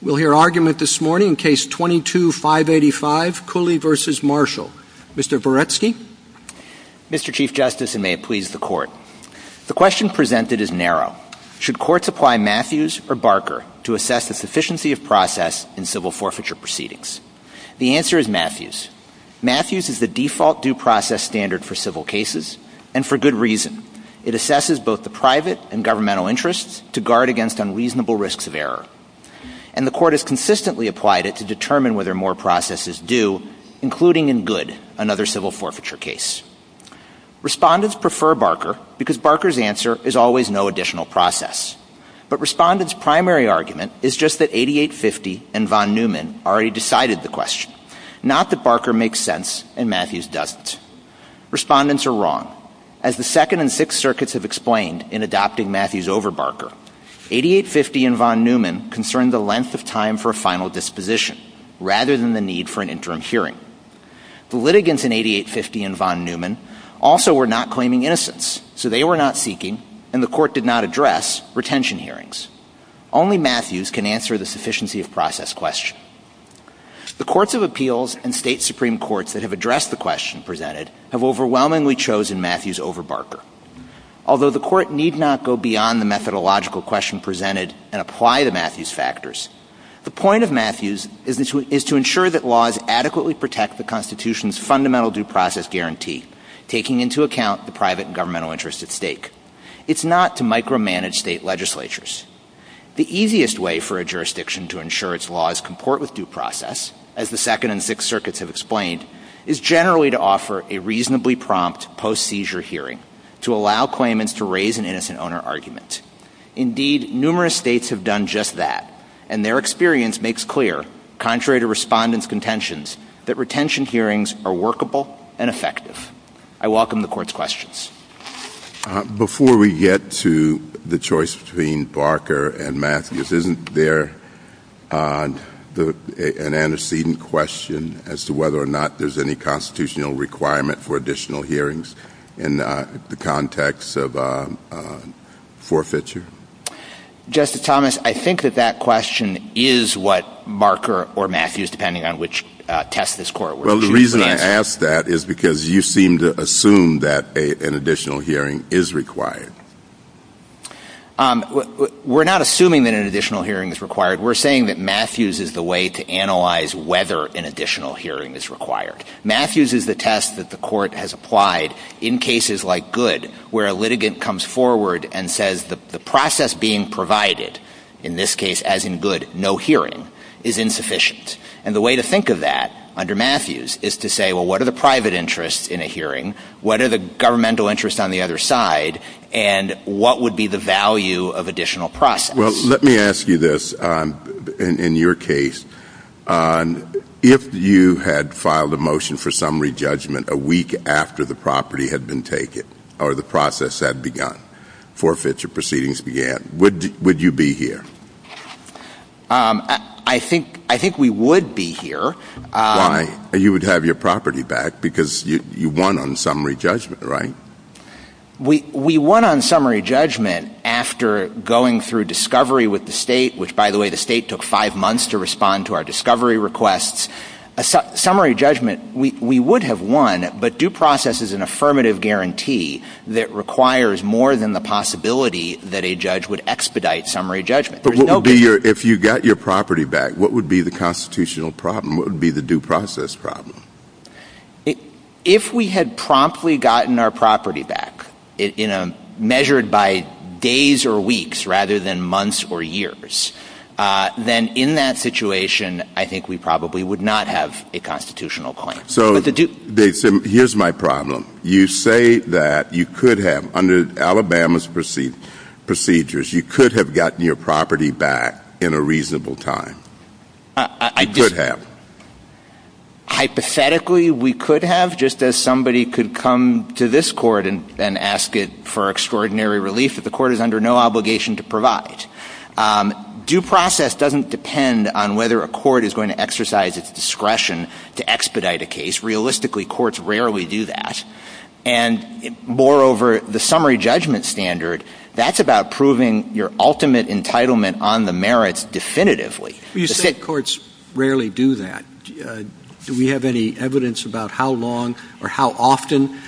We'll hear argument this morning, Case 22-585, Culley v. Marshall. Mr. Voretsky? Mr. Chief Justice, and may it please the Court. The question presented is narrow. Should courts apply Matthews or Barker to assess the sufficiency of process in civil forfeiture proceedings? The answer is Matthews. Matthews is the default due process standard for civil cases, and for good reason. It assesses both the private and governmental interests to guard against unreasonable risks of error. And the Court has consistently applied it to determine whether more process is due, including in good, another civil forfeiture case. Respondents prefer Barker because Barker's answer is always no additional process. But Respondents' primary argument is just that 8850 and von Neumann already decided the question. Not that Barker makes sense and Matthews doesn't. Respondents are wrong. As the Second and Sixth Circuits have explained in adopting Matthews over Barker, 8850 and von Neumann concerned the length of time for a final disposition, rather than the need for an interim hearing. The litigants in 8850 and von Neumann also were not claiming innocence, so they were not seeking, and the Court did not address, retention hearings. Only Matthews can answer the sufficiency of process question. The Courts of Appeals and State Supreme Courts that have addressed the question presented have overwhelmingly chosen Matthews over Barker. Although the Court need not go beyond the methodological question presented and apply the Matthews factors, the point of Matthews is to ensure that laws adequately protect the Constitution's fundamental due process guarantee, taking into account the private and governmental interests at stake. It's not to micromanage state legislatures. The easiest way for a jurisdiction to ensure its laws comport with due process, as the Second and Sixth Circuits have explained, is generally to offer a reasonably prompt post-seizure hearing to allow claimants to raise an innocent owner argument. Indeed, numerous states have done just that, and their experience makes clear, contrary to respondents' contentions, that retention hearings are workable and effective. I welcome the Court's questions. Before we get to the choice between Barker and Matthews, isn't there an antecedent question as to whether or not there's any constitutional requirement for additional hearings in the context of forfeiture? Justice Thomas, I think that that question is what Barker or Matthews, depending on which test this Court were looking at. Well, the reason I ask that is because you seem to assume that an additional hearing is required. We're not assuming that an additional hearing is required. We're saying that Matthews is the way to analyze whether an additional hearing is required. Matthews is the test that the Court has applied in cases like Goode, where a litigant comes forward and says the process being provided, in this case, as in Goode, no hearing, is insufficient. And the way to think of that under Matthews is to say, well, what are the private interests in a hearing, what are the governmental interests on the other side, and what would be the value of additional processes? Well, let me ask you this. In your case, if you had filed a motion for summary judgment a week after the property had been taken or the process had begun, forfeiture proceedings began, would you be here? I think we would be here. Why? You would have your property back because you won on summary judgment, right? We won on summary judgment after going through discovery with the State, which, by the way, the State took five months to respond to our discovery requests. Summary judgment, we would have won, but due process is an affirmative guarantee that requires more than the possibility that a judge would expedite summary judgment. But if you got your property back, what would be the constitutional problem? What would be the due process problem? If we had promptly gotten our property back, measured by days or weeks rather than months or years, then in that situation I think we probably would not have a constitutional claim. So here's my problem. You say that you could have, under Alabama's procedures, you could have gotten your property back in a reasonable time. You could have. Hypothetically, we could have, just as somebody could come to this court and ask it for extraordinary relief that the court is under no obligation to provide. Due process doesn't depend on whether a court is going to exercise its discretion to expedite a case. Realistically, courts rarely do that. And moreover, the summary judgment standard, that's about proving your ultimate entitlement on the merits definitively. You said courts rarely do that. Do we have any evidence about how long or how often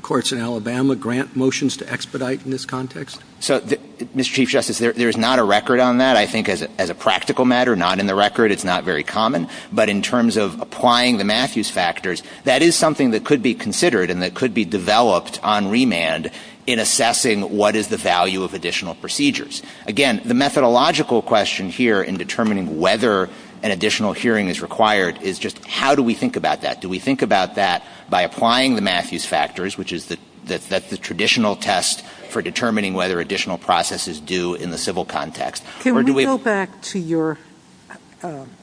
courts in Alabama grant motions to expedite in this context? So, Mr. Chief Justice, there is not a record on that. I think as a practical matter, not in the record. It's not very common. But in terms of applying the Matthews factors, that is something that could be considered and that could be developed on remand in assessing what is the value of additional procedures. Again, the methodological question here in determining whether an additional hearing is required is just how do we think about that? Do we think about that by applying the Matthews factors, which is the traditional test for determining whether additional process is due in the civil context? Can we go back to your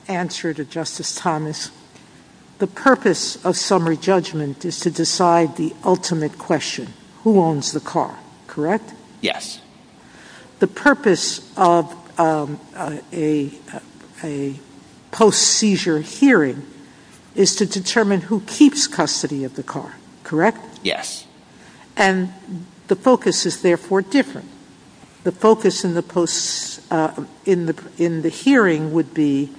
answer to Justice Thomas? The purpose of summary judgment is to decide the ultimate question, who owns the car. Correct? Yes. The purpose of a post-seizure hearing is to determine who keeps custody of the car. Correct? Yes. And the focus is therefore different. The focus in the hearing would be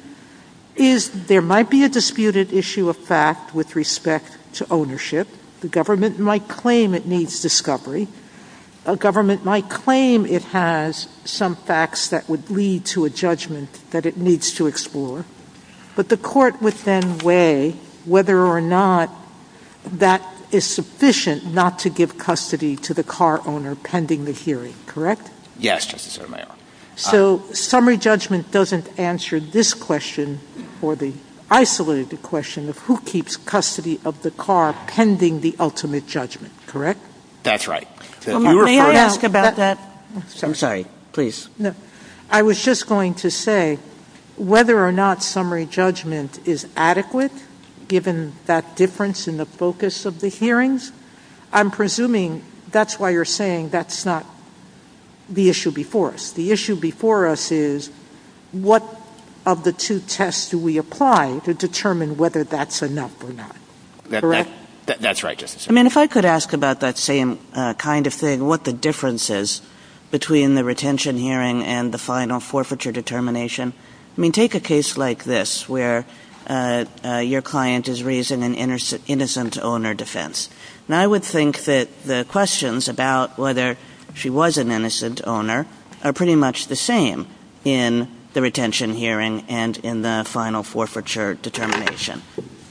there might be a disputed issue of fact with respect to ownership. The government might claim it needs discovery. A government might claim it has some facts that would lead to a judgment that it needs to explore. But the court would then weigh whether or not that is sufficient not to give custody to the car owner pending the hearing. Correct? Yes. So summary judgment doesn't answer this question for the isolated question of who keeps custody of the car pending the ultimate judgment. Correct? That's right. May I ask about that? I'm sorry. Please. I was just going to say whether or not summary judgment is adequate given that difference in the focus of the hearings. I'm presuming that's why you're saying that's not the issue before us. The issue before us is what of the two tests do we apply to determine whether that's enough or not. That's right. I mean if I could ask about that same kind of thing, what the difference is between the retention hearing and the final forfeiture determination. I mean take a case like this where your client is raising an innocent owner defense. Now I would think that the questions about whether she was an innocent owner are pretty much the same in the retention hearing and in the final forfeiture determination.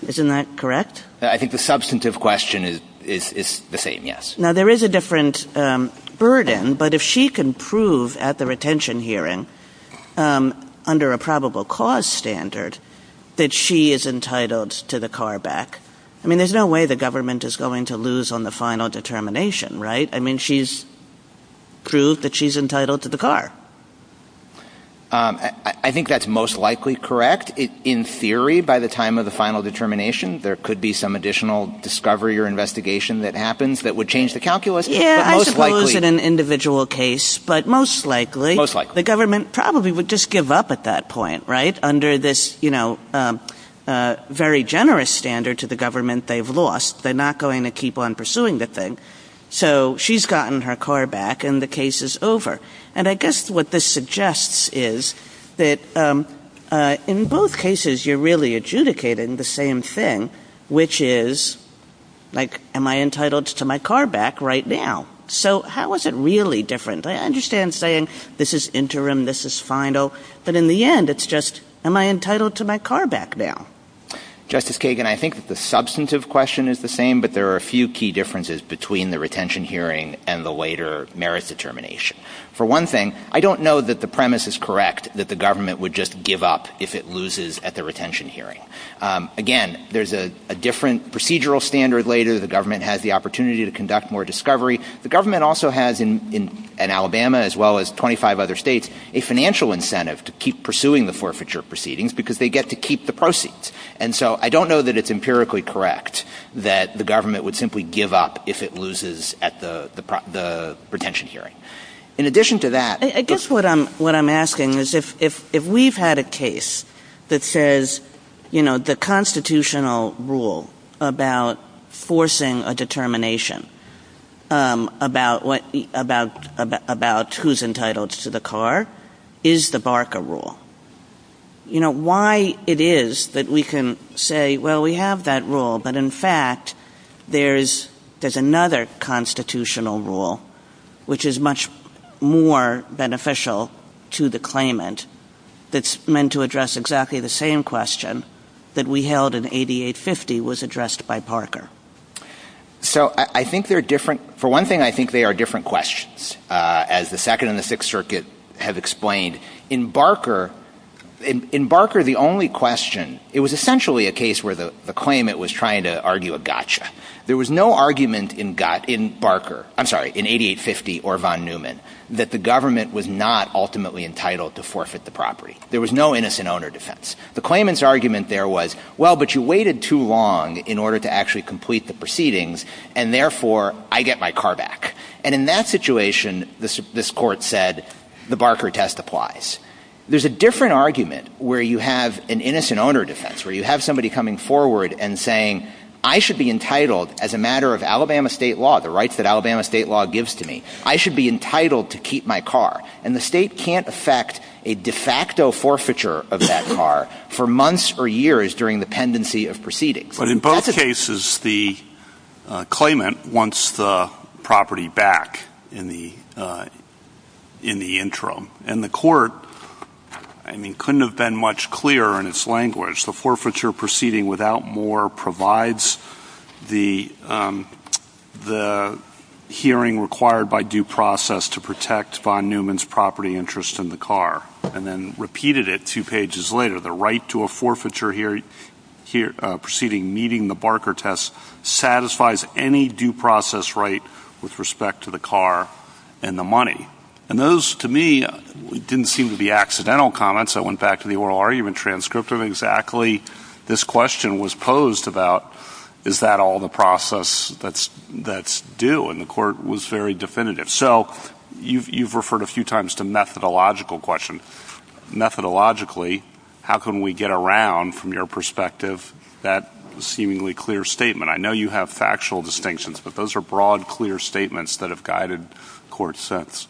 Isn't that correct? I think the substantive question is the same, yes. Now there is a different burden, but if she can prove at the retention hearing under a probable cause standard that she is entitled to the car back, I mean there's no way the government is going to lose on the final determination, right? I mean she's proved that she's entitled to the car. I think that's most likely correct. In theory by the time of the final determination there could be some additional discovery or investigation that happens that would change the calculus. Yeah, I suppose in an individual case, but most likely the government probably would just give up at that point, right? Under this very generous standard to the government they've lost. They're not going to keep on pursuing the thing. So she's gotten her car back and the case is over. And I guess what this suggests is that in both cases you're really adjudicating the same thing, which is like am I entitled to my car back right now? So how is it really different? I understand saying this is interim, this is final, but in the end it's just am I entitled to my car back now? Justice Kagan, I think that the substantive question is the same, but there are a few key differences between the retention hearing and the later merit determination. For one thing, I don't know that the premise is correct that the government would just give up if it loses at the retention hearing. Again, there's a different procedural standard later. The government has the opportunity to conduct more discovery. The government also has in Alabama, as well as 25 other states, a financial incentive to keep pursuing the forfeiture proceedings because they get to keep the proceeds. And so I don't know that it's empirically correct that the government would simply give up if it loses at the retention hearing. I guess what I'm asking is if we've had a case that says the constitutional rule about forcing a determination about who's entitled to the car is the Barker rule, why it is that we can say, well, we have that rule, but in fact there's another constitutional rule which is much more beneficial to the claimant that's meant to address exactly the same question that we held in 8850 was addressed by Barker. So I think they're different. For one thing, I think they are different questions. As the Second and the Sixth Circuit have explained, in Barker, the only question, it was essentially a case where the claimant was trying to argue a gotcha. There was no argument in Barker, I'm sorry, in 8850 or von Neumann, that the government was not ultimately entitled to forfeit the property. There was no innocent owner defense. The claimant's argument there was, well, but you waited too long in order to actually complete the proceedings, and therefore I get my car back. And in that situation, this court said, the Barker test applies. There's a different argument where you have an innocent owner defense, where you have somebody coming forward and saying, I should be entitled as a matter of Alabama state law, the rights that Alabama state law gives to me, I should be entitled to keep my car. And the state can't affect a de facto forfeiture of that car for months or years during the pendency of proceedings. But in both cases, the claimant wants the property back in the interim, and the court, I mean, couldn't have been much clearer in its language. The forfeiture proceeding without more provides the hearing required by due process to protect von Neumann's property interest in the car, and then repeated it two pages later. The right to a forfeiture proceeding meeting the Barker test satisfies any due process right with respect to the car and the money. And those, to me, didn't seem to be accidental comments. I went back to the oral argument transcript of exactly this question was posed about, is that all the process that's due, and the court was very definitive. So you've referred a few times to methodological questions. Methodologically, how can we get around, from your perspective, that seemingly clear statement? I know you have factual distinctions, but those are broad, clear statements that have guided court since.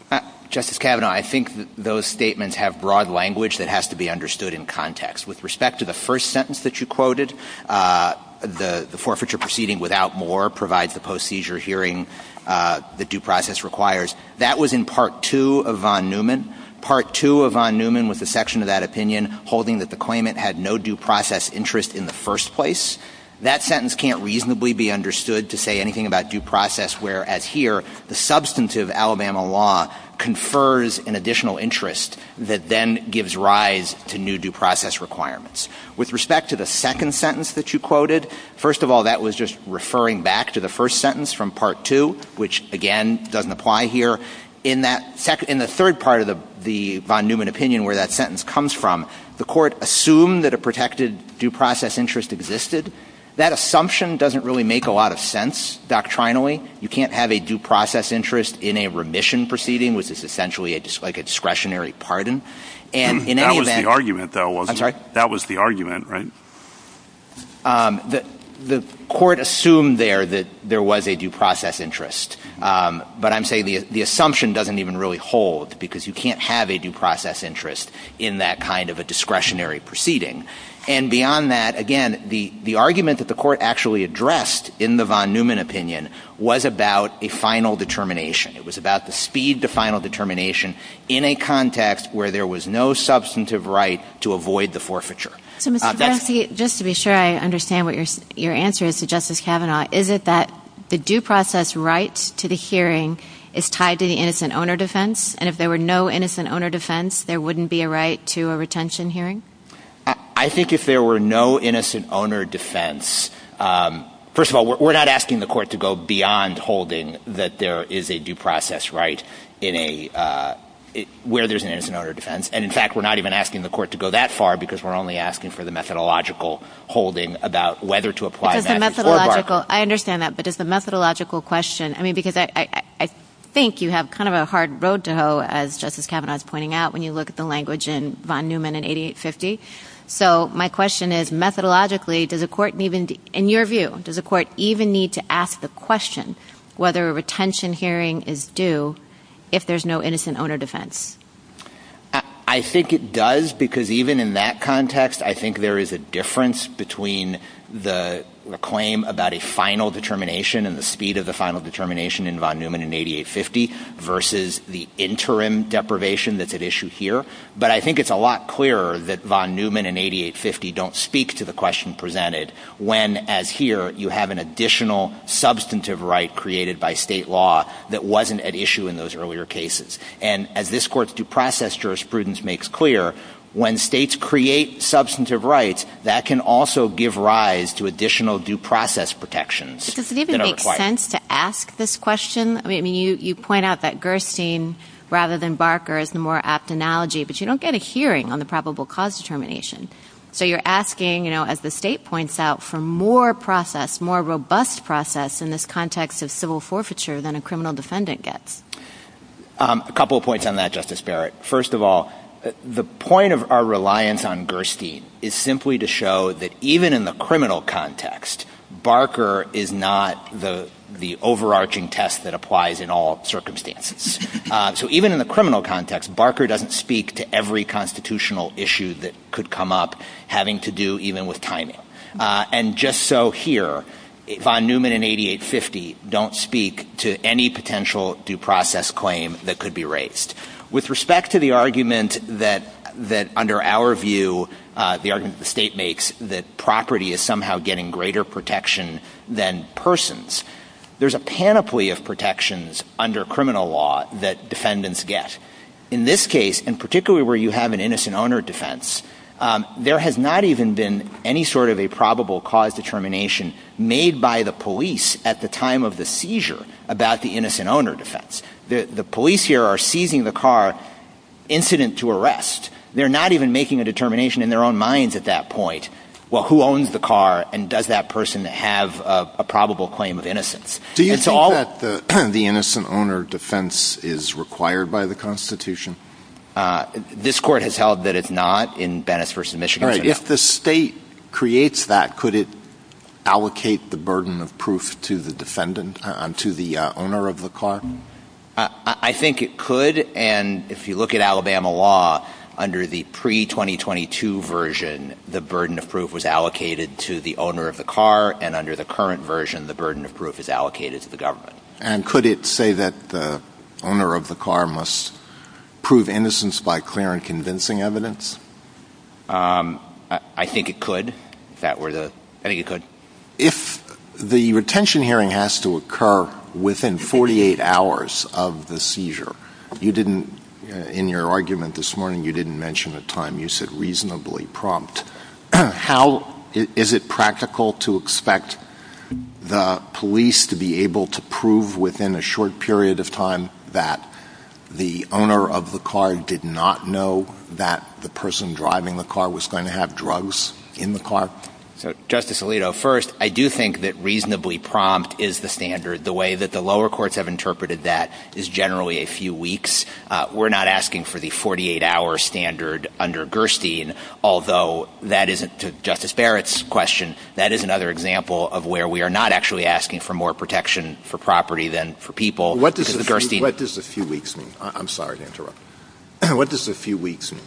Justice Kavanaugh, I think those statements have broad language that has to be understood in context. With respect to the first sentence that you quoted, the forfeiture proceeding without more provides the post-seizure hearing the due process requires, that was in Part 2 of von Neumann. Part 2 of von Neumann was the section of that opinion holding that the claimant had no due process interest in the first place. That sentence can't reasonably be understood to say anything about due process, whereas here, the substantive Alabama law confers an additional interest that then gives rise to new due process requirements. With respect to the second sentence that you quoted, first of all, that was just referring back to the first sentence from Part 2, which, again, doesn't apply here. In the third part of the von Neumann opinion, where that sentence comes from, the court assumed that a protected due process interest existed. That assumption doesn't really make a lot of sense doctrinally. You can't have a due process interest in a remission proceeding, which is essentially like a discretionary pardon. That was the argument, right? The court assumed there that there was a due process interest, but I'm saying the assumption doesn't even really hold because you can't have a due process interest in that kind of a discretionary proceeding. And beyond that, again, the argument that the court actually addressed in the von Neumann opinion was about a final determination. It was about the speed to final determination in a context where there was no substantive right to avoid the forfeiture. Just to be sure I understand what your answer is to Justice Kavanaugh, is it that the due process right to the hearing is tied to the innocent owner defense, and if there were no innocent owner defense, there wouldn't be a right to a retention hearing? I think if there were no innocent owner defense, first of all, we're not asking the court to go beyond holding that there is a due process right where there's an innocent owner defense. And, in fact, we're not even asking the court to go that far because we're only asking for the methodological holding about whether to apply Matthews or Barker. I understand that, but it's a methodological question. I mean, because I think you have kind of a hard road to hoe, as Justice Kavanaugh is pointing out, when you look at the language in von Neumann in 8850. So my question is methodologically, in your view, does the court even need to ask the question whether a retention hearing is due if there's no innocent owner defense? I think it does because even in that context, I think there is a difference between the claim about a final determination and the speed of the final determination in von Neumann in 8850 versus the interim deprivation that's at issue here. But I think it's a lot clearer that von Neumann and 8850 don't speak to the question presented when, as here, you have an additional substantive right created by state law that wasn't at issue in those earlier cases. And as this court's due process jurisprudence makes clear, when states create substantive rights, that can also give rise to additional due process protections that are required. Does it even make sense to ask this question? I mean, you point out that Gerstein rather than Barker is the more apt analogy, but you don't get a hearing on the probable cause determination. So you're asking, as the state points out, for more process, more robust process in this context of civil forfeiture than a criminal defendant gets. A couple of points on that, Justice Barrett. First of all, the point of our reliance on Gerstein is simply to show that even in the criminal context, Barker is not the overarching test that applies in all circumstances. So even in the criminal context, Barker doesn't speak to every constitutional issue that could come up having to do even with timing. And just so here, von Neumann and 8850 don't speak to any potential due process claim that could be raised. With respect to the argument that under our view, the argument the state makes, that property is somehow getting greater protection than persons, there's a panoply of protections under criminal law that defendants get. In this case, and particularly where you have an innocent owner defense, there has not even been any sort of a probable cause determination made by the police at the time of the seizure about the innocent owner defense. The police here are seizing the car incident to arrest. They're not even making a determination in their own minds at that point, well, who owns the car and does that person have a probable claim of innocence. Do you think that the innocent owner defense is required by the Constitution? This court has held that it's not in Bennis v. Michigan. If the state creates that, could it allocate the burden of proof to the owner of the car? I think it could. And if you look at Alabama law, under the pre-2022 version, the burden of proof was allocated to the owner of the car, and under the current version, the burden of proof is allocated to the government. And could it say that the owner of the car must prove innocence by clear and convincing evidence? I think it could. If the retention hearing has to occur within 48 hours of the seizure, you didn't, in your argument this morning, you didn't mention a time. You said reasonably prompt. How is it practical to expect the police to be able to prove within a short period of time that the owner of the car did not know that the person driving the car was going to have drugs in the car? Justice Alito, first, I do think that reasonably prompt is the standard. The way that the lower courts have interpreted that is generally a few weeks. We're not asking for the 48-hour standard under Gerstein, although that isn't, to Justice Barrett's question, that is another example of where we are not actually asking for more protection for property than for people. What does a few weeks mean? I'm sorry to interrupt. What does a few weeks mean?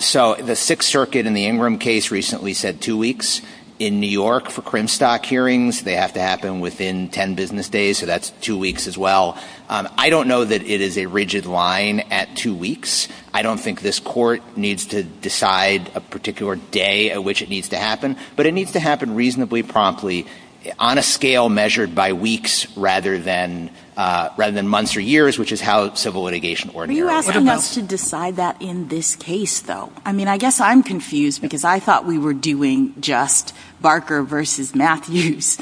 So the Sixth Circuit in the Ingram case recently said two weeks. In New York for Crimstock hearings, they have to happen within 10 business days, so that's two weeks as well. I don't know that it is a rigid line at two weeks. I don't think this court needs to decide a particular day at which it needs to happen, but it needs to happen reasonably promptly on a scale measured by weeks rather than months or years, which is how civil litigation ordinarily happens. Are you asking us to decide that in this case, though? I mean, I guess I'm confused because I thought we were doing just Barker versus Matthews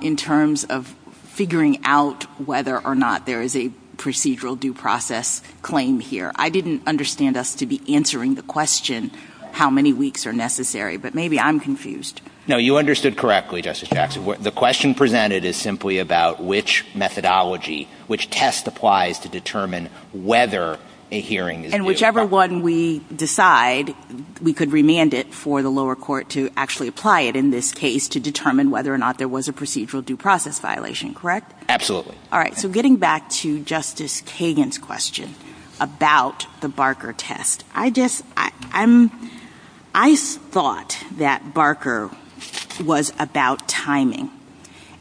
in terms of figuring out whether or not there is a procedural due process claim here. I didn't understand us to be answering the question how many weeks are necessary, but maybe I'm confused. No, you understood correctly, Justice Jackson. The question presented is simply about which methodology, which test applies to determine whether a hearing is due. And whichever one we decide, we could remand it for the lower court to actually apply it in this case to determine whether or not there was a procedural due process violation, correct? Absolutely. All right, so getting back to Justice Kagan's question about the Barker test, I thought that Barker was about timing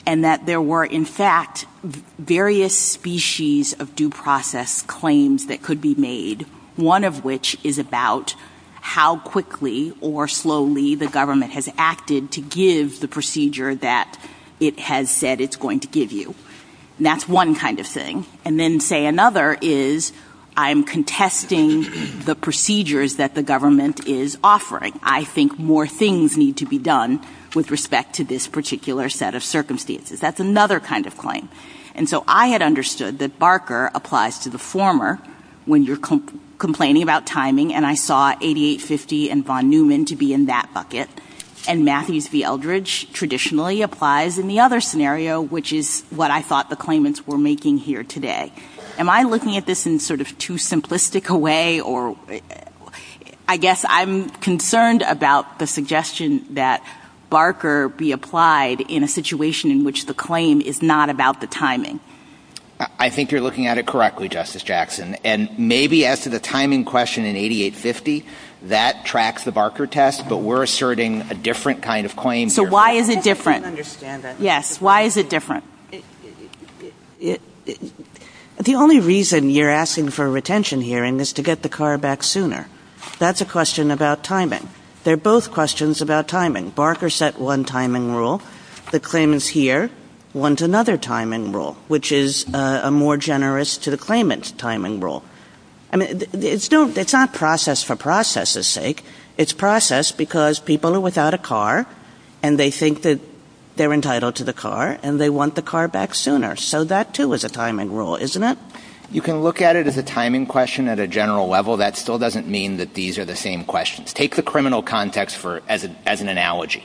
and that there were, in fact, various species of due process claims that could be made, one of which is about how quickly or slowly the government has acted to give the procedure that it has said it's going to give you. And that's one kind of thing. And then, say, another is I'm contesting the procedures that the government is offering. I think more things need to be done with respect to this particular set of circumstances. That's another kind of claim. And so I had understood that Barker applies to the former when you're complaining about timing, and I saw 8850 and Von Neumann to be in that bucket, and Matthews v. Eldridge traditionally applies in the other scenario, which is what I thought the claimants were making here today. Am I looking at this in sort of too simplistic a way? I guess I'm concerned about the suggestion that Barker be applied in a situation in which the claim is not about the timing. I think you're looking at it correctly, Justice Jackson. And maybe as to the timing question in 8850, that tracks the Barker test, but we're asserting a different kind of claim here. So why is it different? I don't understand that. Yes, why is it different? The only reason you're asking for a retention hearing is to get the car back sooner. That's a question about timing. They're both questions about timing. Barker set one timing rule. The claimants here want another timing rule, which is a more generous to the claimants timing rule. I mean, it's not process for process's sake. It's process because people are without a car, and they think that they're entitled to the car, and they want the car back sooner. So that, too, is a timing rule, isn't it? You can look at it as a timing question at a general level. That still doesn't mean that these are the same questions. Take the criminal context as an analogy.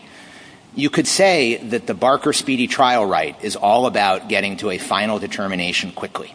You could say that the Barker speedy trial right is all about getting to a final determination quickly.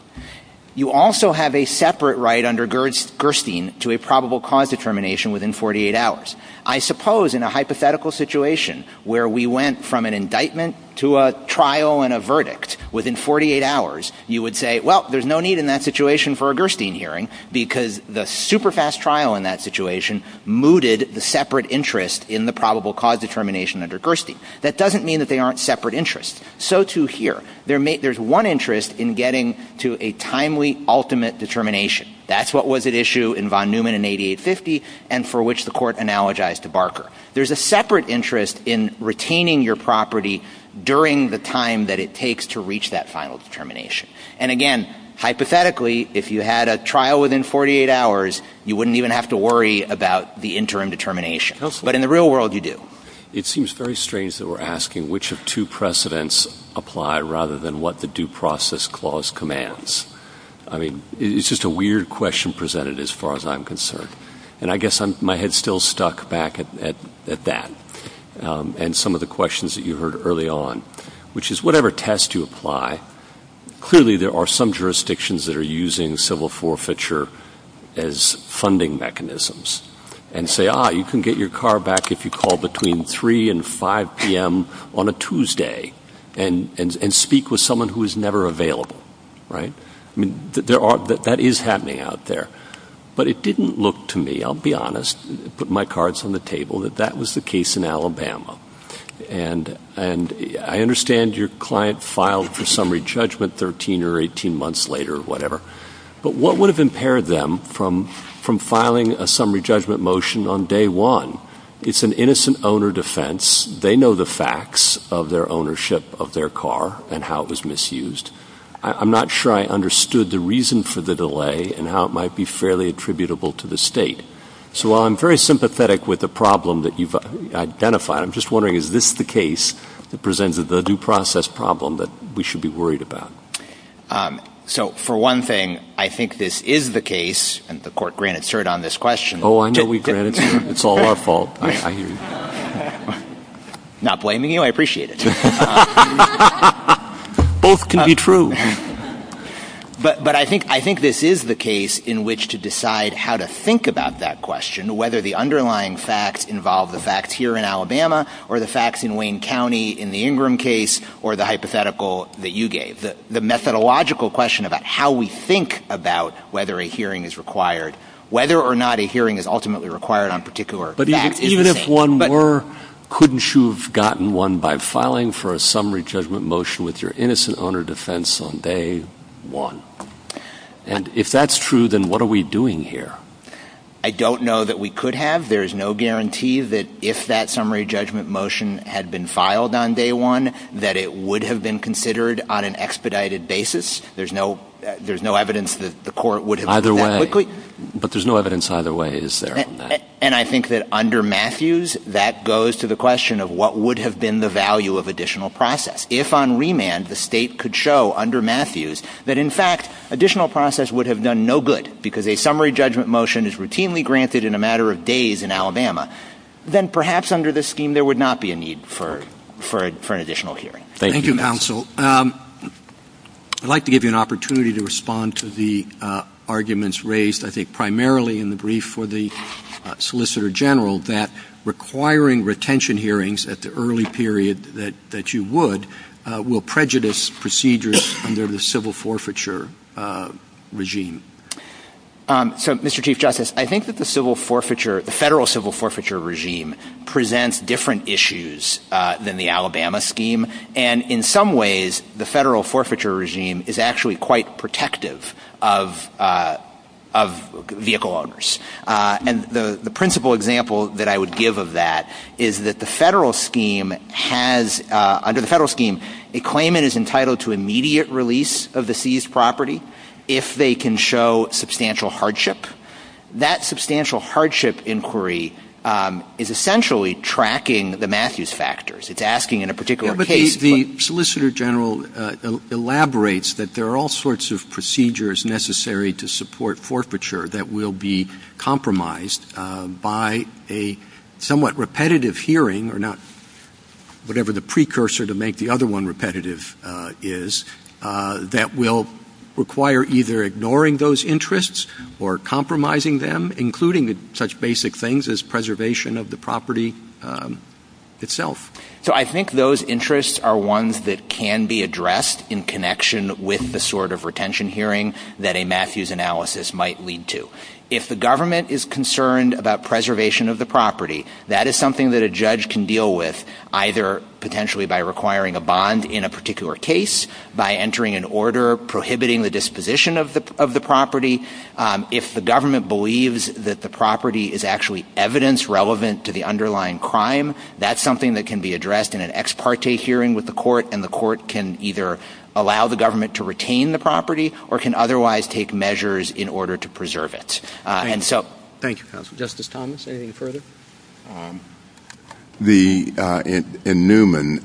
You also have a separate right under Gerstein to a probable cause determination within 48 hours. I suppose in a hypothetical situation where we went from an indictment to a trial and a verdict within 48 hours, you would say, well, there's no need in that situation for a Gerstein hearing because the super fast trial in that situation mooted the separate interest in the probable cause determination under Gerstein. That doesn't mean that they aren't separate interests. So, too, here. There's one interest in getting to a timely ultimate determination. That's what was at issue in von Neumann in 8850 and for which the court analogized to Barker. There's a separate interest in retaining your property during the time that it takes to reach that final determination. And, again, hypothetically, if you had a trial within 48 hours, you wouldn't even have to worry about the interim determination. But in the real world, you do. It seems very strange that we're asking which of two precedents apply rather than what the due process clause commands. I mean, it's just a weird question presented as far as I'm concerned. And I guess my head's still stuck back at that and some of the questions that you heard early on, which is whatever test you apply, clearly there are some jurisdictions that are using civil forfeiture as funding mechanisms and say, ah, you can get your car back if you call between 3 and 5 p.m. on a Tuesday and speak with someone who is never available, right? I mean, that is happening out there. But it didn't look to me, I'll be honest, put my cards on the table, that that was the case in Alabama. And I understand your client filed for summary judgment 13 or 18 months later or whatever. But what would have impaired them from filing a summary judgment motion on day one? It's an innocent owner defense. They know the facts of their ownership of their car and how it was misused. I'm not sure I understood the reason for the delay and how it might be fairly attributable to the state. So while I'm very sympathetic with the problem that you've identified, I'm just wondering, is this the case that presents the due process problem that we should be worried about? So for one thing, I think this is the case, and the court granted cert on this question. Oh, I know we granted cert. It's all our fault. I hear you. I'm not blaming you. I appreciate it. Both can be true. But I think this is the case in which to decide how to think about that question, whether the underlying facts involve the facts here in Alabama or the facts in Wayne County in the Ingram case or the hypothetical that you gave, the methodological question about how we think about whether a hearing is required, whether or not a hearing is ultimately required on particular facts. But even if one were, couldn't you have gotten one by filing for a summary judgment motion with your innocent owner defense on day one? And if that's true, then what are we doing here? I don't know that we could have. There is no guarantee that if that summary judgment motion had been filed on day one that it would have been considered on an expedited basis. There's no evidence that the court would have done that quickly. Either way. But there's no evidence either way, is there? And I think that under Matthews, that goes to the question of what would have been the value of additional process. If on remand, the state could show under Matthews that, in fact, additional process would have done no good because a summary judgment motion is routinely granted in a matter of days in Alabama, then perhaps under this scheme there would not be a need for an additional hearing. Thank you. Thank you, counsel. I'd like to give you an opportunity to respond to the arguments raised, I think, primarily in the brief for the solicitor general that requiring retention hearings at the early period that you would will prejudice procedures under the civil forfeiture regime. So, Mr. Chief Justice, I think that the federal civil forfeiture regime presents different issues than the Alabama scheme, and in some ways the federal forfeiture regime is actually quite protective of vehicle owners. And the principal example that I would give of that is that the federal scheme has, under the federal scheme, a claimant is entitled to immediate release of the seized property if they can show substantial hardship. That substantial hardship inquiry is essentially tracking the Matthews factors. It's asking in a particular case. The solicitor general elaborates that there are all sorts of procedures necessary to support forfeiture that will be compromised by a somewhat repetitive hearing, or not whatever the precursor to make the other one repetitive is, that will require either ignoring those interests or compromising them, including such basic things as preservation of the property itself. So I think those interests are ones that can be addressed in connection with the sort of retention hearing that a Matthews analysis might lead to. If the government is concerned about preservation of the property, that is something that a judge can deal with, either potentially by requiring a bond in a particular case, by entering an order prohibiting the disposition of the property. If the government believes that the property is actually evidence relevant to the underlying crime, that's something that can be addressed in an ex parte hearing with the court, and the court can either allow the government to retain the property or can otherwise take measures in order to preserve it. Thank you, counsel. Justice Thomas, anything further? In Newman,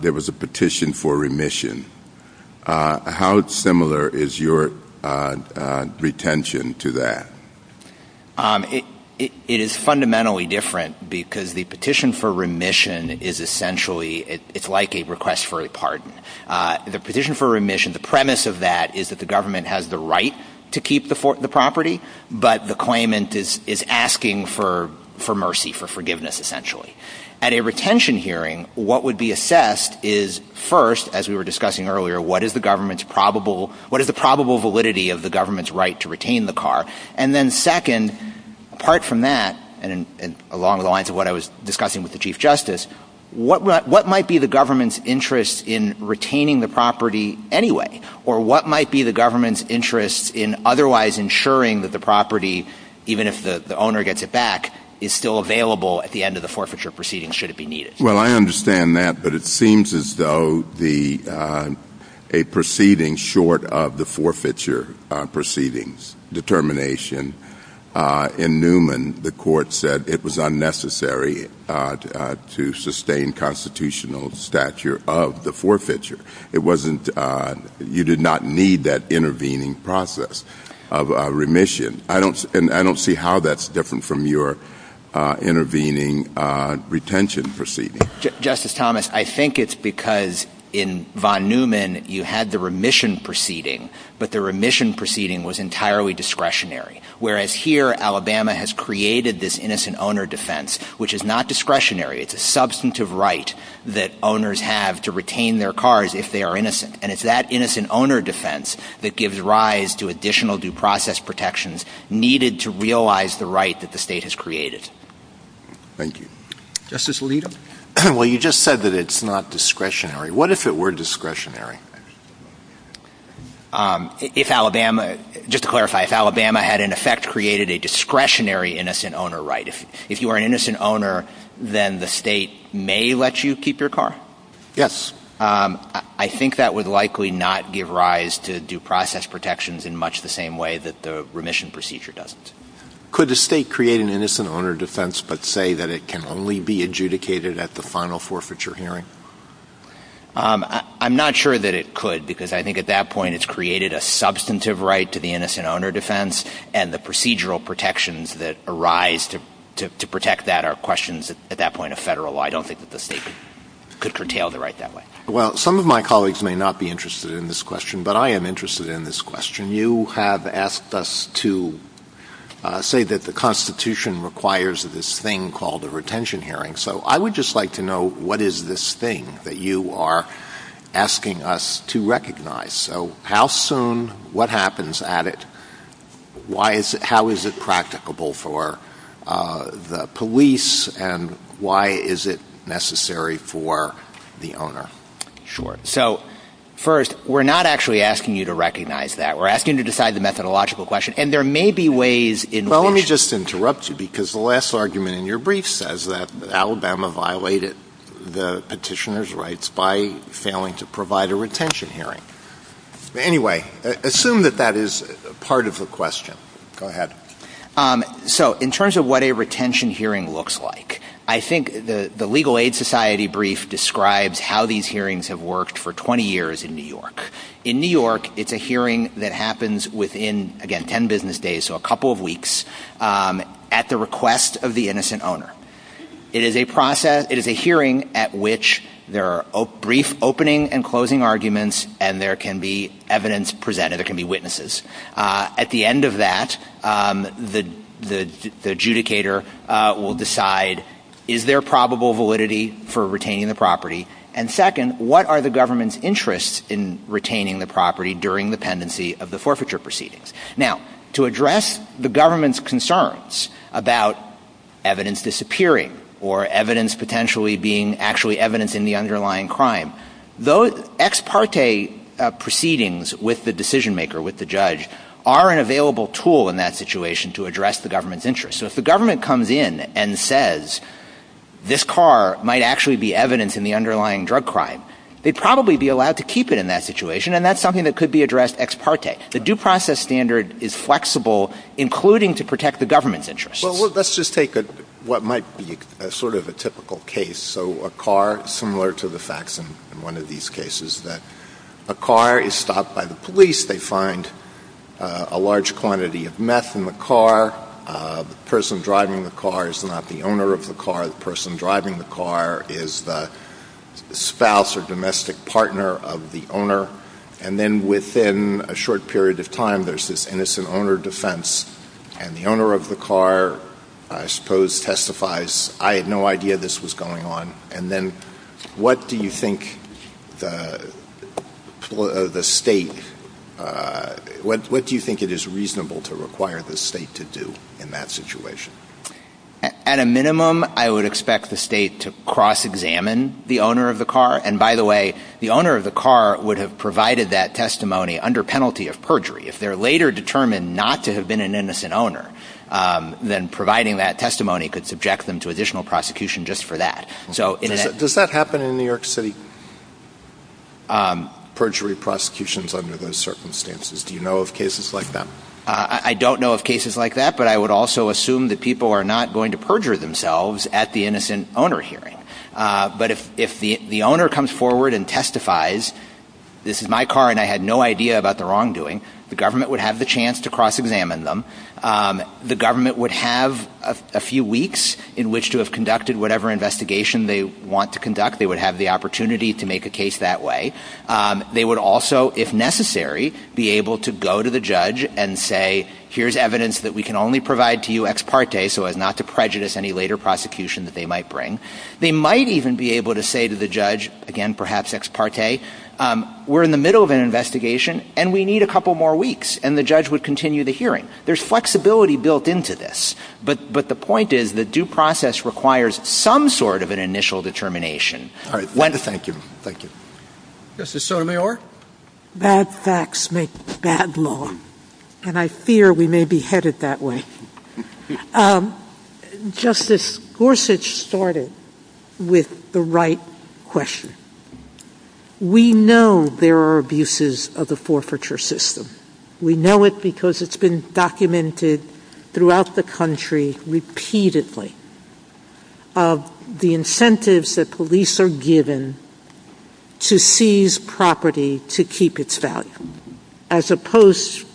there was a petition for remission. How similar is your retention to that? It is fundamentally different because the petition for remission is essentially, it's like a request for a pardon. The petition for remission, the premise of that is that the government has the right to keep the property, but the claimant is asking for mercy, for forgiveness, essentially. At a retention hearing, what would be assessed is, first, as we were discussing earlier, what is the probable validity of the government's right to retain the car? And then second, apart from that, and along the lines of what I was discussing with the Chief Justice, what might be the government's interest in retaining the property anyway? Or what might be the government's interest in otherwise ensuring that the property, even if the owner gets it back, is still available at the end of the forfeiture proceeding, should it be needed? Well, I understand that, but it seems as though a proceeding short of the forfeiture proceedings determination in Newman, the court said it was unnecessary to sustain constitutional stature of the forfeiture. You did not need that intervening process of remission, and I don't see how that's different from your intervening retention proceeding. Justice Thomas, I think it's because in von Newman you had the remission proceeding, but the remission proceeding was entirely discretionary, whereas here Alabama has created this innocent owner defense, which is not discretionary. It's a substantive right that owners have to retain their cars if they are innocent, and it's that innocent owner defense that gives rise to additional due process protections needed to realize the right that the state has created. Thank you. Justice Alito? Well, you just said that it's not discretionary. What if it were discretionary? Just to clarify, if Alabama had in effect created a discretionary innocent owner right, if you are an innocent owner, then the state may let you keep your car? Yes. I think that would likely not give rise to due process protections in much the same way that the remission procedure does. Could the state create an innocent owner defense but say that it can only be adjudicated at the final forfeiture hearing? I'm not sure that it could because I think at that point it's created a substantive right to the innocent owner defense, and the procedural protections that arise to protect that are questions at that point of federal law. I don't think that the state could curtail the right that way. Well, some of my colleagues may not be interested in this question, but I am interested in this question. You have asked us to say that the Constitution requires this thing called a retention hearing, so I would just like to know what is this thing that you are asking us to recognize? So how soon, what happens at it, how is it practicable for the police, and why is it necessary for the owner? Sure. So, first, we're not actually asking you to recognize that. We're asking you to decide the methodological question, and there may be ways in which... Well, let me just interrupt you because the last argument in your brief says that Alabama violated the petitioner's rights by failing to provide a retention hearing. Anyway, assume that that is part of the question. Go ahead. So, in terms of what a retention hearing looks like, I think the Legal Aid Society brief describes how these hearings have worked for 20 years in New York. In New York, it's a hearing that happens within, again, 10 business days, so a couple of weeks, at the request of the innocent owner. It is a hearing at which there are brief opening and closing arguments, and there can be evidence presented. There can be witnesses. At the end of that, the adjudicator will decide, is there probable validity for retaining the property? And, second, what are the government's interests in retaining the property during the pendency of the forfeiture proceedings? Now, to address the government's concerns about evidence disappearing or evidence potentially being actually evidence in the underlying crime, those ex parte proceedings with the decision maker, with the judge, are an available tool in that situation to address the government's interests. So, if the government comes in and says, this car might actually be evidence in the underlying drug crime, they'd probably be allowed to keep it in that situation, and that's something that could be addressed ex parte. The due process standard is flexible, including to protect the government's interests. Well, let's just take what might be sort of a typical case. So, a car, similar to the facts in one of these cases, that a car is stopped by the police. They find a large quantity of meth in the car. The person driving the car is not the owner of the car. The person driving the car is the spouse or domestic partner of the owner. And then, within a short period of time, there's this innocent owner defense, and the owner of the car, I suppose, testifies, I had no idea this was going on. And then, what do you think the state, what do you think it is reasonable to require the state to do in that situation? At a minimum, I would expect the state to cross-examine the owner of the car. And, by the way, the owner of the car would have provided that testimony under penalty of perjury. If they're later determined not to have been an innocent owner, then providing that testimony could subject them to additional prosecution just for that. Does that happen in New York City, perjury prosecutions under those circumstances? Do you know of cases like that? I don't know of cases like that, but I would also assume that people are not going to perjure themselves at the innocent owner hearing. But if the owner comes forward and testifies, this is my car and I had no idea about the wrongdoing, the government would have the chance to cross-examine them. The government would have a few weeks in which to have conducted whatever investigation they want to conduct. They would have the opportunity to make a case that way. They would also, if necessary, be able to go to the judge and say, here's evidence that we can only provide to you ex parte, so as not to prejudice any later prosecution that they might bring. They might even be able to say to the judge, again, perhaps ex parte, we're in the middle of an investigation and we need a couple more weeks, and the judge would continue the hearing. There's flexibility built into this, but the point is the due process requires some sort of an initial determination. Thank you. Justice Sotomayor? Bad facts make bad law. And I fear we may be headed that way. Justice Gorsuch started with the right question. We know there are abuses of the forfeiture system. We know it because it's been documented throughout the country repeatedly and we know it because it's been documented nationally of the incentives that police are given to seize property to keep its value, as opposed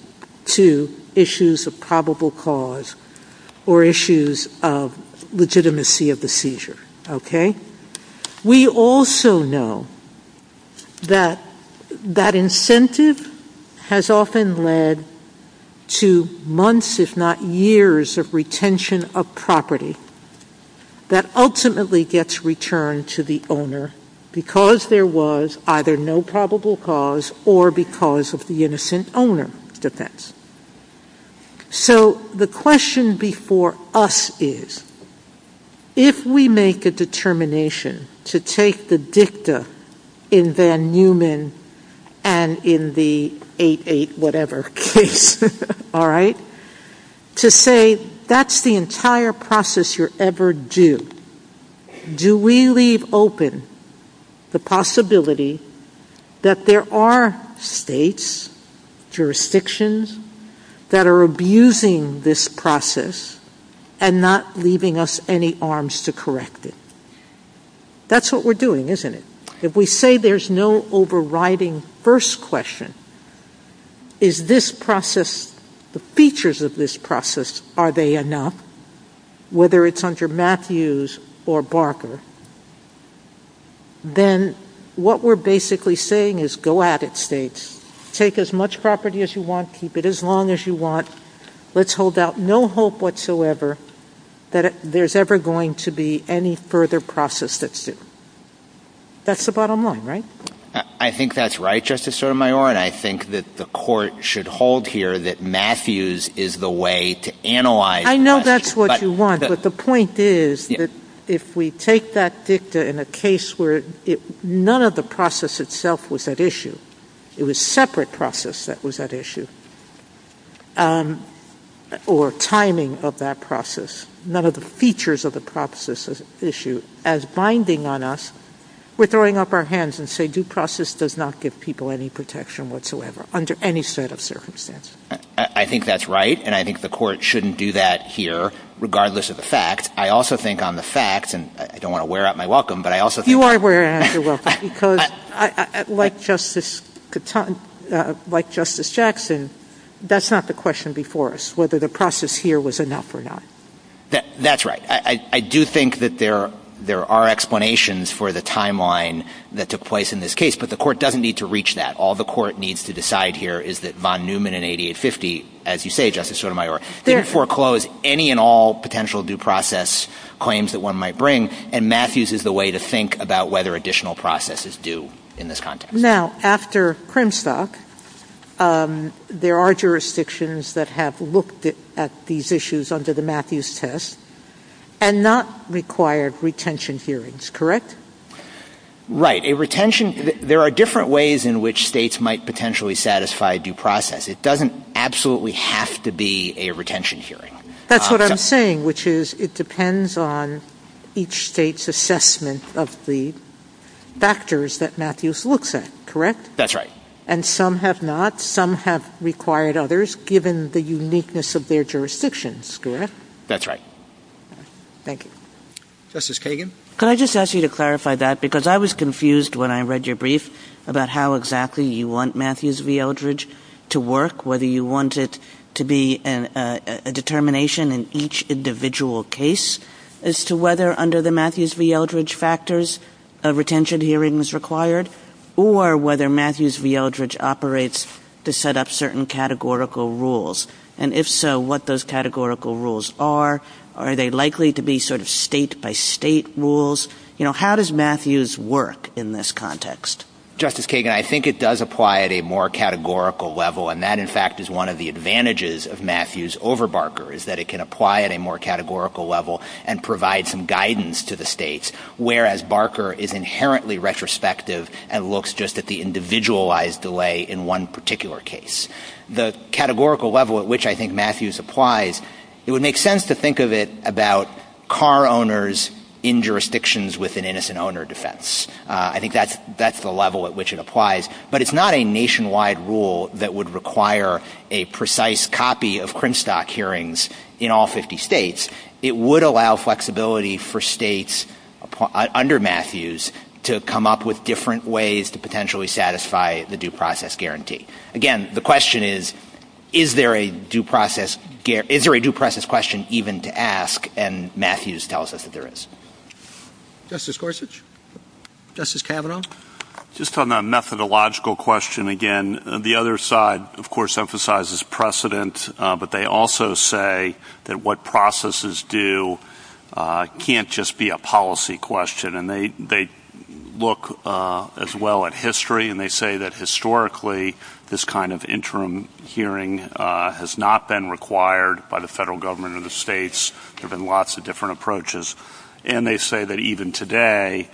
to issues of probable cause or issues of legitimacy of the seizure. We also know that that incentive has often led to months, if not years, of retention of property that ultimately gets returned to the owner because there was either no probable cause or because of the innocent owner defense. So the question before us is, if we make a determination to take the dicta in Van Neumann and in the 8-8-whatever case, all right, to say that's the entire process you're ever due, do we leave open the possibility that there are states, jurisdictions, that are abusing this process and not leaving us any arms to correct it? That's what we're doing, isn't it? If we say there's no overriding first question, is this process, the features of this process, are they enough, whether it's under Matthews or Barker, then what we're basically saying is go at it, states. Take as much property as you want, keep it as long as you want. Let's hold out no hope whatsoever that there's ever going to be any further process that's due. That's the bottom line, right? I think that's right, Justice Sotomayor, and I think that the court should hold here that Matthews is the way to analyze the process. I know that's what you want, but the point is that if we take that dicta in a case where none of the process itself was at issue, it was a separate process that was at issue, or timing of that process, none of the features of the process is at issue, as binding on us, we're throwing up our hands and saying, the due process does not give people any protection whatsoever under any set of circumstances. I think that's right, and I think the court shouldn't do that here, regardless of the fact. I also think on the fact, and I don't want to wear out my welcome, but I also think... You are wearing out your welcome, because like Justice Jackson, that's not the question before us, whether the process here was enough or not. That's right. I do think that there are explanations for the timeline that took place in this case, but the court doesn't need to reach that. All the court needs to decide here is that von Neumann in 8850, as you say, Justice Sotomayor, didn't foreclose any and all potential due process claims that one might bring, and Matthews is the way to think about whether additional process is due in this context. Now, after Cremstock, there are jurisdictions that have looked at these issues under the Matthews test and not required retention hearings, correct? Right. There are different ways in which states might potentially satisfy due process. It doesn't absolutely have to be a retention hearing. That's what I'm saying, which is it depends on each state's assessment of the factors that Matthews looks at, correct? That's right. And some have not. Some have required others, given the uniqueness of their jurisdictions, correct? That's right. Thank you. Justice Kagan? Can I just ask you to clarify that? Because I was confused when I read your brief about how exactly you want Matthews v. Eldridge to work, whether you want it to be a determination in each individual case, as to whether under the Matthews v. Eldridge factors, a retention hearing is required, or whether Matthews v. Eldridge operates to set up certain categorical rules. And if so, what those categorical rules are. Are they likely to be sort of state-by-state rules? You know, how does Matthews work in this context? Justice Kagan, I think it does apply at a more categorical level, and that, in fact, is one of the advantages of Matthews over Barker, is that it can apply at a more categorical level and provide some guidance to the states, whereas Barker is inherently retrospective and looks just at the individualized delay in one particular case. The categorical level at which I think Matthews applies, it would make sense to think of it about car owners in jurisdictions with an innocent owner defense. I think that's the level at which it applies. But it's not a nationwide rule that would require a precise copy of Crimstock hearings in all 50 states. It would allow flexibility for states under Matthews to come up with different ways to potentially satisfy the due process guarantee. Again, the question is, is there a due process question even to ask? And Matthews tells us that there is. Justice Gorsuch? Justice Kavanaugh? Just on that methodological question again, the other side, of course, emphasizes precedent, but they also say that what processes do can't just be a policy question. And they look as well at history, and they say that historically this kind of interim hearing has not been required by the federal government or the states given lots of different approaches. And they say that even today,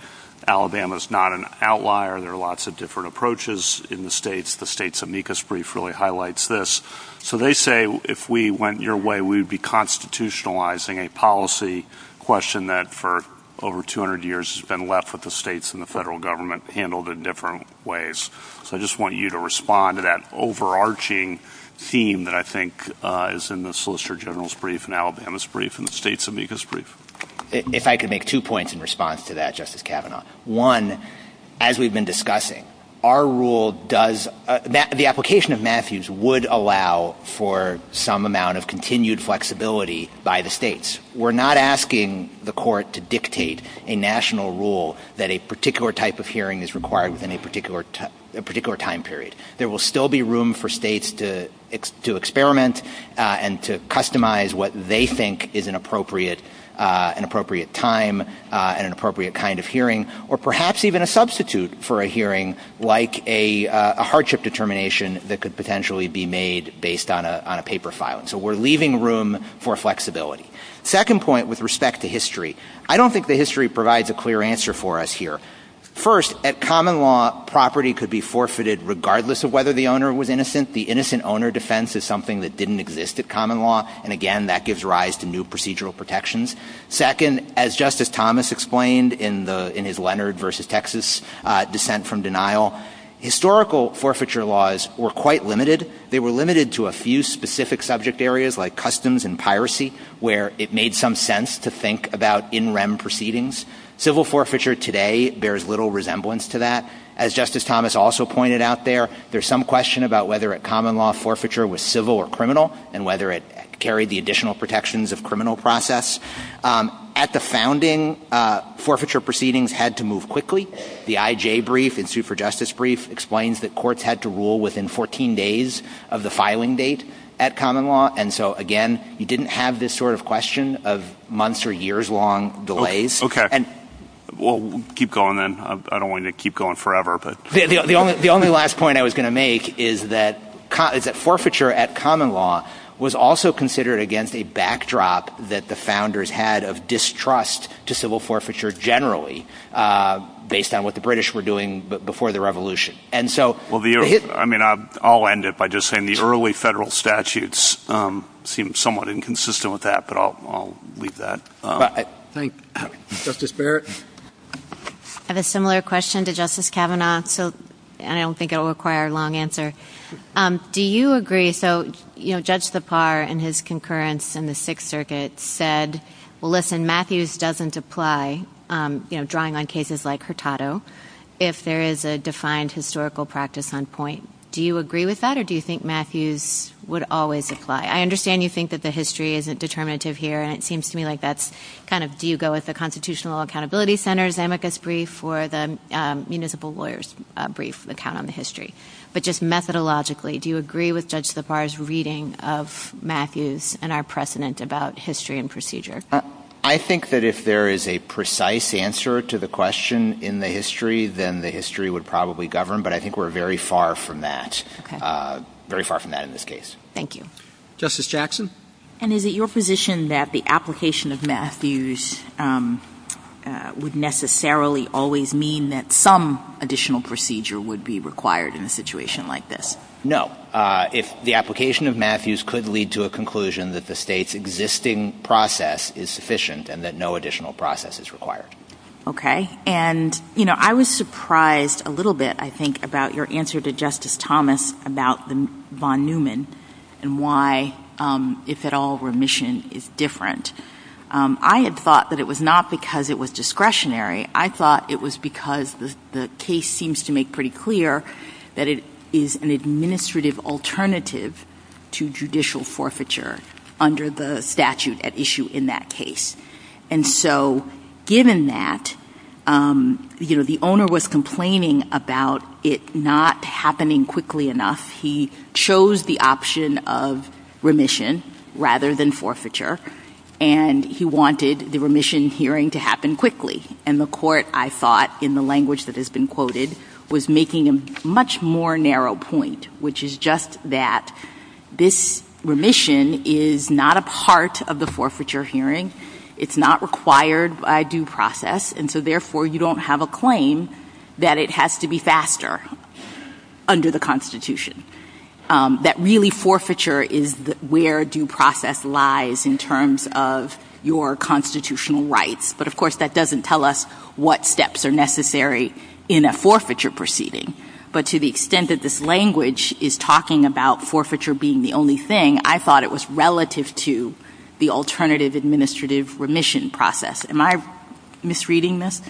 Alabama is not an outlier. There are lots of different approaches in the states. The states' amicus brief really highlights this. So they say if we went your way, we would be constitutionalizing a policy question that for over 200 years has been left with the states and the federal government handled in different ways. So I just want you to respond to that overarching theme that I think is in the Solicitor General's brief and Alabama's brief and the states' amicus brief. If I could make two points in response to that, Justice Kavanaugh. One, as we've been discussing, our rule does – the application of Matthews would allow for some amount of continued flexibility by the states. We're not asking the court to dictate a national rule that a particular type of hearing is required within a particular time period. There will still be room for states to experiment and to customize what they think is an appropriate time and an appropriate kind of hearing, or perhaps even a substitute for a hearing like a hardship determination that could potentially be made based on a paper filing. So we're leaving room for flexibility. Second point with respect to history. I don't think the history provides a clear answer for us here. First, at common law, property could be forfeited regardless of whether the owner was innocent. The innocent owner defense is something that didn't exist at common law, and again, that gives rise to new procedural protections. Second, as Justice Thomas explained in his Leonard v. Texas dissent from denial, historical forfeiture laws were quite limited. They were limited to a few specific subject areas like customs and piracy, where it made some sense to think about in rem proceedings. Civil forfeiture today bears little resemblance to that. As Justice Thomas also pointed out there, there's some question about whether a common law forfeiture was civil or criminal and whether it carried the additional protections of criminal process. At the founding, forfeiture proceedings had to move quickly. The IJ brief and super justice brief explains that courts had to rule within 14 days of the filing date at common law, and so again, you didn't have this sort of question of months or years long delays. Okay. Well, keep going then. I don't want you to keep going forever. The only last point I was going to make is that forfeiture at common law was also considered against a backdrop that the founders had of distrust to civil forfeiture generally. Based on what the British were doing before the revolution. I'll end it by just saying the early federal statutes seem somewhat inconsistent with that, but I'll leave that. Thank you. Justice Barrett? I have a similar question to Justice Kavanaugh, so I don't think it will require a long answer. Do you agree, so Judge Sipar in his concurrence in the Sixth Circuit said, well, listen, Matthews doesn't apply, you know, drawing on cases like Hurtado, if there is a defined historical practice on point. Do you agree with that, or do you think Matthews would always apply? I understand you think that the history isn't determinative here, and it seems to me like that's kind of, do you go with the Constitutional Accountability Center's amicus brief or the municipal lawyer's brief, the count on the history. But just methodologically, do you agree with Judge Sipar's reading of Matthews and our precedent about history and procedure? I think that if there is a precise answer to the question in the history, then the history would probably govern, but I think we're very far from that, very far from that in this case. Thank you. Justice Jackson? And is it your position that the application of Matthews would necessarily always mean that some additional procedure would be required in a situation like this? No. The application of Matthews could lead to a conclusion that the State's existing process is sufficient and that no additional process is required. Okay. And, you know, I was surprised a little bit, I think, about your answer to Justice Thomas about von Neumann and why, if at all, remission is different. I had thought that it was not because it was discretionary. I thought it was because the case seems to make pretty clear that it is an administrative alternative to judicial forfeiture under the statute at issue in that case. And so, given that, you know, the owner was complaining about it not happening quickly enough. He chose the option of remission rather than forfeiture, and he wanted the remission hearing to happen quickly. And the court, I thought, in the language that has been quoted, was making a much more narrow point, which is just that this remission is not a part of the forfeiture hearing. It's not required by due process. And so, therefore, you don't have a claim that it has to be faster under the Constitution, that really forfeiture is where due process lies in terms of your constitutional rights. But, of course, that doesn't tell us what steps are necessary in a forfeiture proceeding. But to the extent that this language is talking about forfeiture being the only thing, I thought it was relative to the alternative administrative remission process. Am I misreading this?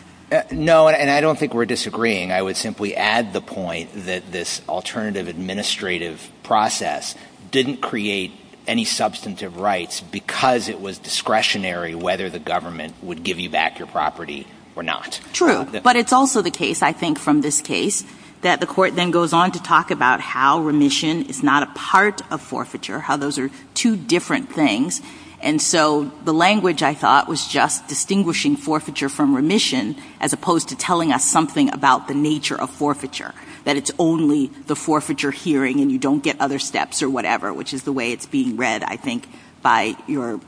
No, and I don't think we're disagreeing. I would simply add the point that this alternative administrative process didn't create any substantive rights because it was discretionary whether the government would give you back your property or not. True, but it's also the case, I think, from this case, that the court then goes on to talk about how remission is not a part of forfeiture, how those are two different things. And so the language, I thought, was just distinguishing forfeiture from remission as opposed to telling us something about the nature of forfeiture, that it's only the forfeiture hearing and you don't get other steps or whatever, which is the way it's being read, I think, by your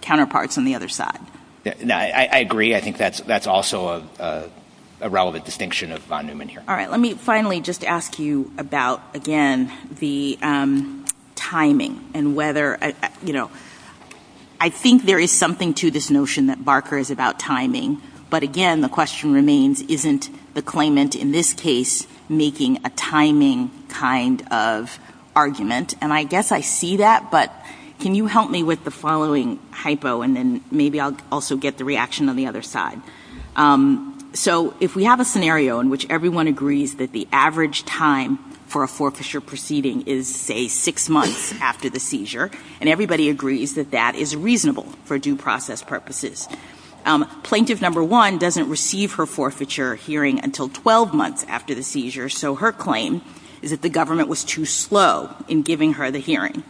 counterparts on the other side. No, I agree. I think that's also a relevant distinction of fondament here. All right. Let me finally just ask you about, again, the timing and whether, you know, I think there is something to this notion that Barker is about timing. But, again, the question remains, isn't the claimant in this case making a timing kind of argument? And I guess I see that, but can you help me with the following hypo and then maybe I'll also get the reaction on the other side. So if we have a scenario in which everyone agrees that the average time for a forfeiture proceeding is, say, six months after the seizure, and everybody agrees that that is reasonable for due process purposes, plaintiff number one doesn't receive her forfeiture hearing until 12 months after the seizure, so her claim is that the government was too slow in giving her the hearing.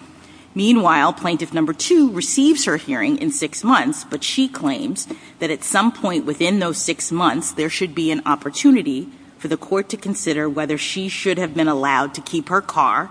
Meanwhile, plaintiff number two receives her hearing in six months, but she claims that at some point within those six months there should be an opportunity for the court to consider whether she should have been allowed to keep her car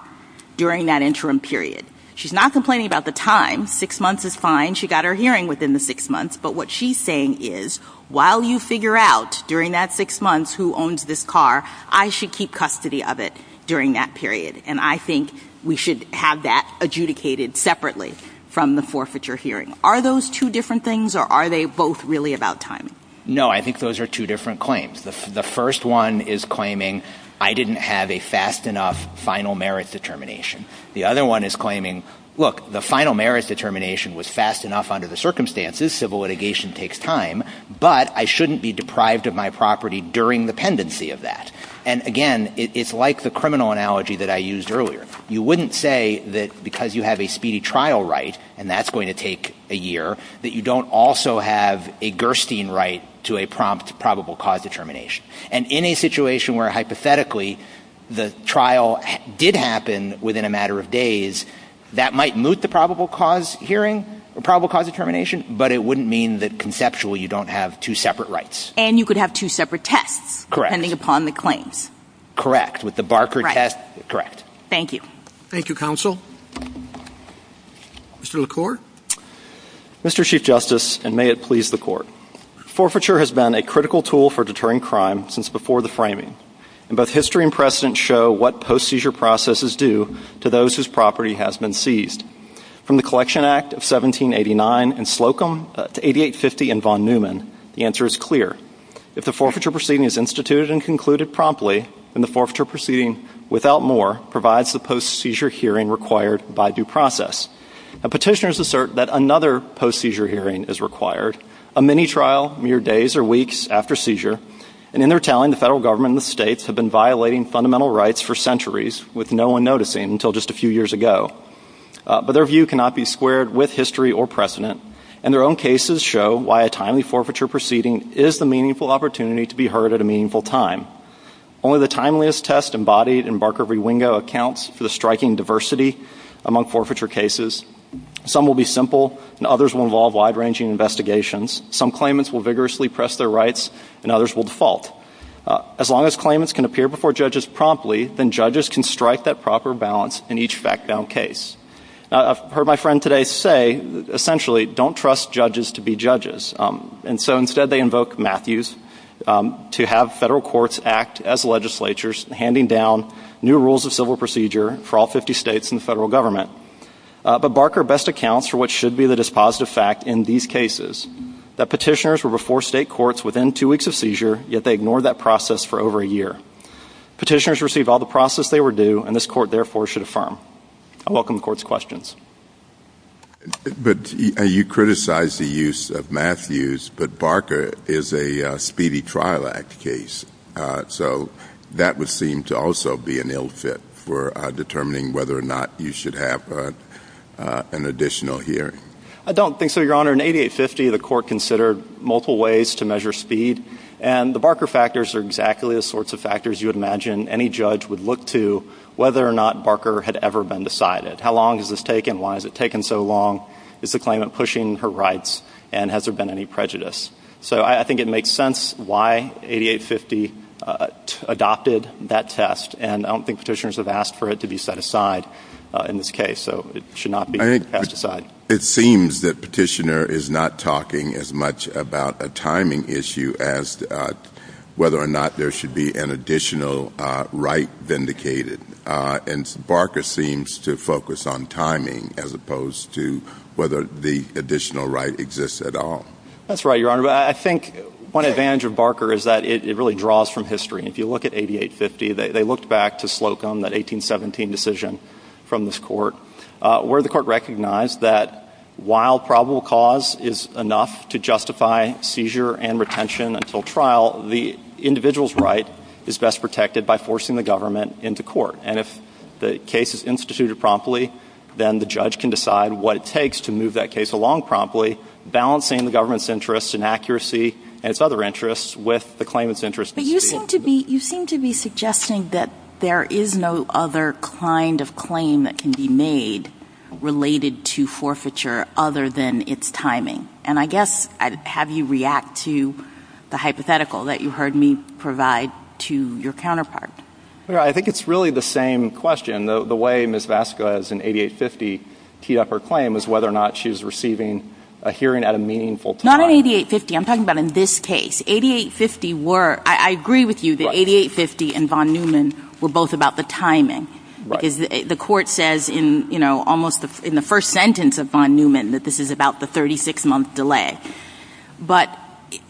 during that interim period. She's not complaining about the time. Six months is fine. She got her hearing within the six months. But what she's saying is, while you figure out during that six months who owns this car, I should keep custody of it during that period, and I think we should have that adjudicated separately from the forfeiture hearing. Are those two different things, or are they both really about timing? No, I think those are two different claims. The first one is claiming I didn't have a fast enough final merit determination. The other one is claiming, look, the final merit determination was fast enough under the circumstances, civil litigation takes time, but I shouldn't be deprived of my property during the pendency of that. And, again, it's like the criminal analogy that I used earlier. You wouldn't say that because you have a speedy trial right, and that's going to take a year, that you don't also have a Gerstein right to a prompt probable cause determination. And in a situation where, hypothetically, the trial did happen within a matter of days, that might moot the probable cause hearing, the probable cause determination, but it wouldn't mean that conceptually you don't have two separate rights. And you could have two separate tests depending upon the claims. Correct. With the Barker test, correct. Thank you. Thank you, Counsel. Mr. LaCour? Mr. Chief Justice, and may it please the Court, forfeiture has been a critical tool for deterring crime since before the framing, and both history and precedent show what post-seizure processes do to those whose property has been seized. From the Collection Act of 1789 in Slocum to 8850 in Von Neumann, the answer is clear. If the forfeiture proceeding is instituted and concluded promptly, then the forfeiture proceeding without more provides the post-seizure hearing required by due process. Now, petitioners assert that another post-seizure hearing is required, a mini-trial mere days or weeks after seizure, and in their telling, the federal government and the states have been violating fundamental rights for centuries with no one noticing until just a few years ago. But their view cannot be squared with history or precedent, and their own cases show why a timely forfeiture proceeding is the meaningful opportunity to be heard at a meaningful time. Only the timeliest test embodied in Barker v. Wingo accounts for the striking diversity among forfeiture cases. Some will be simple, and others will involve wide-ranging investigations. Some claimants will vigorously press their rights, and others will default. As long as claimants can appear before judges promptly, then judges can strike that proper balance in each fact-found case. I've heard my friend today say, essentially, don't trust judges to be judges. And so instead they invoke Matthews to have federal courts act as legislatures, handing down new rules of civil procedure for all 50 states and the federal government. But Barker best accounts for what should be the dispositive fact in these cases, that petitioners were before state courts within two weeks of seizure, yet they ignored that process for over a year. Petitioners receive all the process they were due, and this court, therefore, should affirm. I welcome the court's questions. But you criticize the use of Matthews, but Barker is a speedy trial act case. So that would seem to also be an ill fit for determining whether or not you should have an additional hearing. I don't think so, Your Honor. In 8850, the court considered multiple ways to measure speed. And the Barker factors are exactly the sorts of factors you would imagine any judge would look to whether or not Barker had ever been decided. How long has this taken? Why has it taken so long? Is the claimant pushing her rights? And has there been any prejudice? So I think it makes sense why 8850 adopted that test, and I don't think petitioners have asked for it to be set aside in this case. So it should not be set aside. It seems that petitioner is not talking as much about a timing issue as whether or not there should be an additional right vindicated. And Barker seems to focus on timing as opposed to whether the additional right exists at all. That's right, Your Honor. I think one advantage of Barker is that it really draws from history. If you look at 8850, they looked back to Slocum, that 1817 decision from this court, where the court recognized that while probable cause is enough to justify seizure and retention until trial, the individual's right is best protected by forcing the government into court. And if the case is instituted promptly, then the judge can decide what it takes to move that case along promptly, balancing the government's interest in accuracy and its other interests with the claimant's interest in speed. You seem to be suggesting that there is no other kind of claim that can be made related to forfeiture other than its timing. And I guess I'd have you react to the hypothetical that you heard me provide to your counterpart. I think it's really the same question. The way Ms. Vasquez in 8850 teed up her claim was whether or not she was receiving a hearing at a meaningful time. Not in 8850. I'm talking about in this case. I agree with you that 8850 and von Neumann were both about the timing. The court says in the first sentence of von Neumann that this is about the 36-month delay. But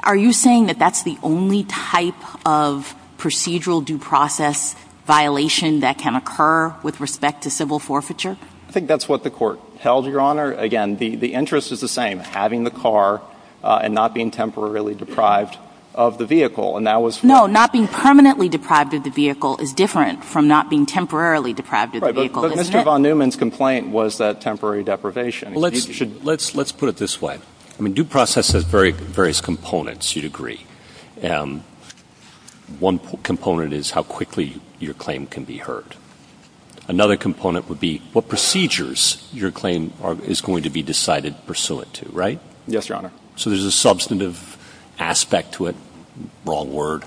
are you saying that that's the only type of procedural due process violation that can occur with respect to civil forfeiture? I think that's what the court tells you, Your Honor. Again, the interest is the same, having the car and not being temporarily deprived of the vehicle. No, not being permanently deprived of the vehicle is different from not being temporarily deprived of the vehicle. But Mr. von Neumann's complaint was that temporary deprivation. Let's put it this way. Due process has various components, you'd agree. One component is how quickly your claim can be heard. Another component would be what procedures your claim is going to be decided pursuant to, right? Yes, Your Honor. So there's a substantive aspect to it. Wrong word.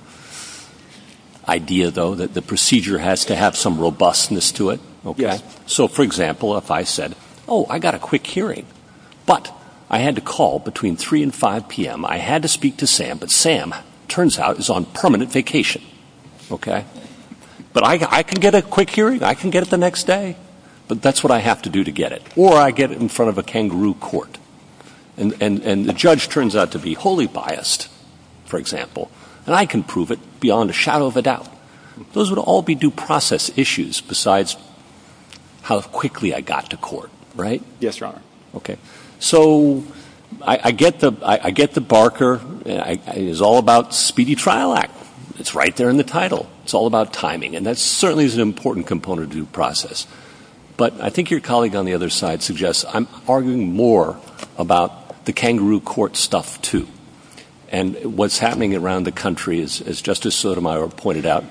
Idea, though, that the procedure has to have some robustness to it. Okay. So, for example, if I said, oh, I got a quick hearing, but I had to call between 3 and 5 p.m. I had to speak to Sam, but Sam turns out is on permanent vacation. Okay. But I can get a quick hearing. I can get it the next day. But that's what I have to do to get it. Or I get it in front of a kangaroo court. And the judge turns out to be wholly biased, for example. And I can prove it beyond a shadow of a doubt. Those would all be due process issues besides how quickly I got to court, right? Yes, Your Honor. Okay. So I get the barker. It's all about speedy trial act. It's right there in the title. It's all about timing. And that certainly is an important component of due process. But I think your colleague on the other side suggests I'm arguing more about the kangaroo court stuff, too. And what's happening around the country, as Justice Sotomayor pointed out,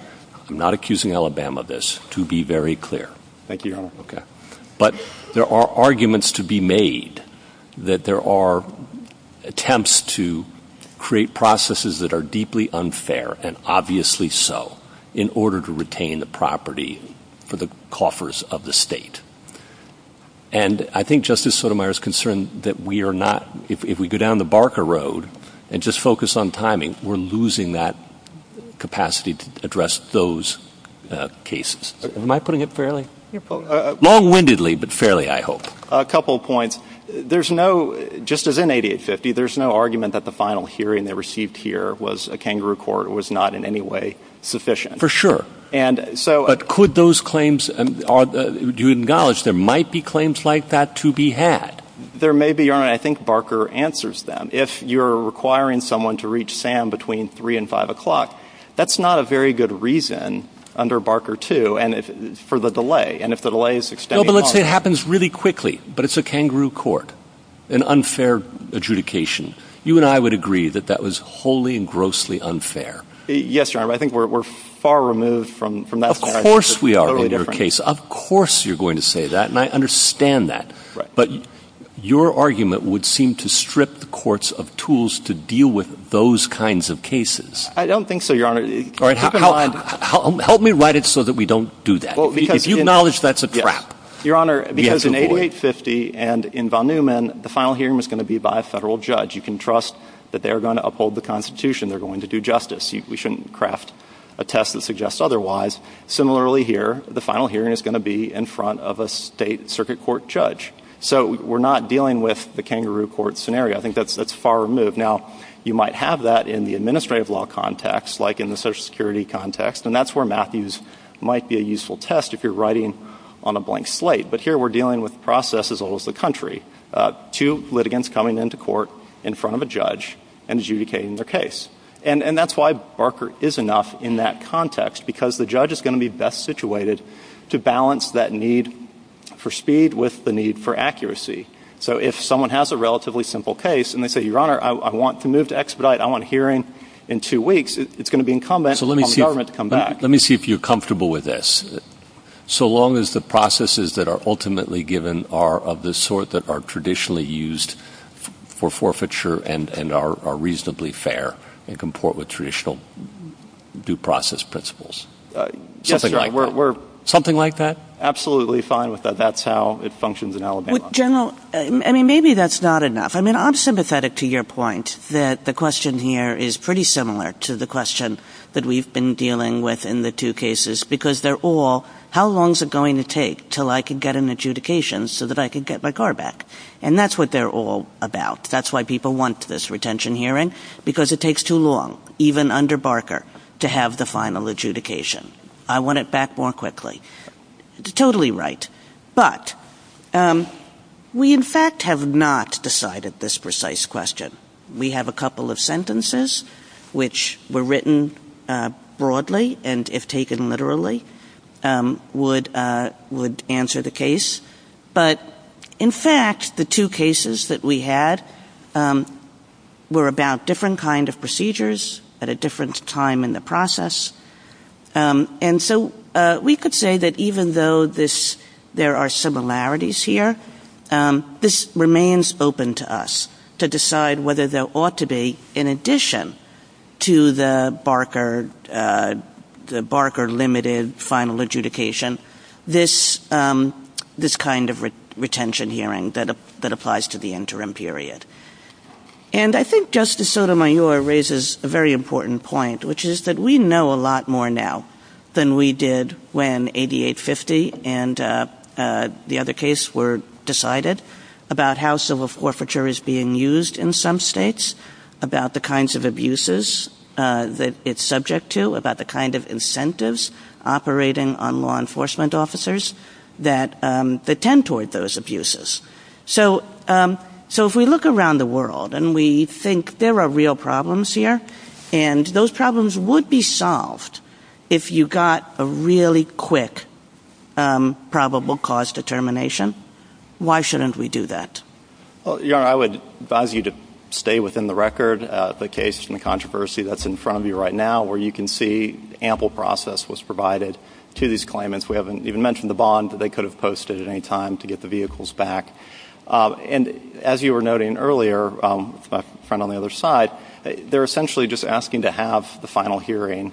I'm not accusing Alabama of this, to be very clear. Thank you, Your Honor. Okay. There are arguments to be made that there are attempts to create processes that are deeply unfair, and obviously so, in order to retain the property for the coffers of the state. And I think Justice Sotomayor is concerned that we are not, if we go down the barker road and just focus on timing, we're losing that capacity to address those cases. Am I putting it fairly? Long-windedly, but fairly, I hope. A couple points. There's no, just as in 8850, there's no argument that the final hearing they received here was a kangaroo court. It was not in any way sufficient. For sure. But could those claims, do you acknowledge there might be claims like that to be had? There may be, Your Honor. I think barker answers them. If you're requiring someone to reach Sam between 3 and 5 o'clock, that's not a very good reason under barker 2 for the delay. No, but let's say it happens really quickly, but it's a kangaroo court, an unfair adjudication. You and I would agree that that was wholly and grossly unfair. Yes, Your Honor. I think we're far removed from that. Of course we are in your case. Of course you're going to say that, and I understand that. But your argument would seem to strip the courts of tools to deal with those kinds of cases. I don't think so, Your Honor. Help me write it so that we don't do that. If you acknowledge that's a trap. Your Honor, because in 8850 and in von Neumann, the final hearing is going to be by a federal judge. You can trust that they are going to uphold the Constitution. They're going to do justice. We shouldn't craft a test that suggests otherwise. Similarly here, the final hearing is going to be in front of a state circuit court judge. So we're not dealing with the kangaroo court scenario. I think that's far removed. Now, you might have that in the administrative law context, like in the Social Security context, and that's where Matthews might be a useful test if you're writing on a blank slate. But here we're dealing with the process as well as the country. Two litigants coming into court in front of a judge and adjudicating their case. And that's why Barker is enough in that context, because the judge is going to be best situated to balance that need for speed with the need for accuracy. So if someone has a relatively simple case and they say, Your Honor, I want to move to expedite. I want a hearing in two weeks. It's going to be incumbent on the government to come back. Let me see if you're comfortable with this. So long as the processes that are ultimately given are of the sort that are traditionally used for forfeiture and are reasonably fair and comport with traditional due process principles. Yes, Your Honor. Something like that? Absolutely fine with that. That's how it functions in Alabama. General, I mean, maybe that's not enough. I mean, I'm sympathetic to your point that the question here is pretty similar to the question that we've been dealing with in the two cases, because they're all how long is it going to take till I can get an adjudication so that I can get my car back? And that's what they're all about. That's why people want this retention hearing, because it takes too long, even under Barker, to have the final adjudication. I want it back more quickly. Totally right. But we, in fact, have not decided this precise question. We have a couple of sentences which were written broadly and, if taken literally, would answer the case. But, in fact, the two cases that we had were about different kind of procedures at a different time in the process. And so we could say that even though there are similarities here, this remains open to us to decide whether there ought to be, in addition to the Barker limited final adjudication, this kind of retention hearing that applies to the interim period. And I think Justice Sotomayor raises a very important point, which is that we know a lot more now than we did when 8850 and the other case were decided about how civil forfeiture is being used in some states, about the kinds of abuses that it's subject to, about the kind of incentives operating on law enforcement officers that tend toward those abuses. So if we look around the world and we think there are real problems here, and those problems would be solved if you got a really quick probable cause determination, why shouldn't we do that? Well, Yara, I would advise you to stay within the record of the case and the controversy that's in front of you right now, where you can see ample process was provided to these claimants. We haven't even mentioned the bond that they could have posted at any time to get the vehicles back. And as you were noting earlier, my friend on the other side, they're essentially just asking to have the final hearing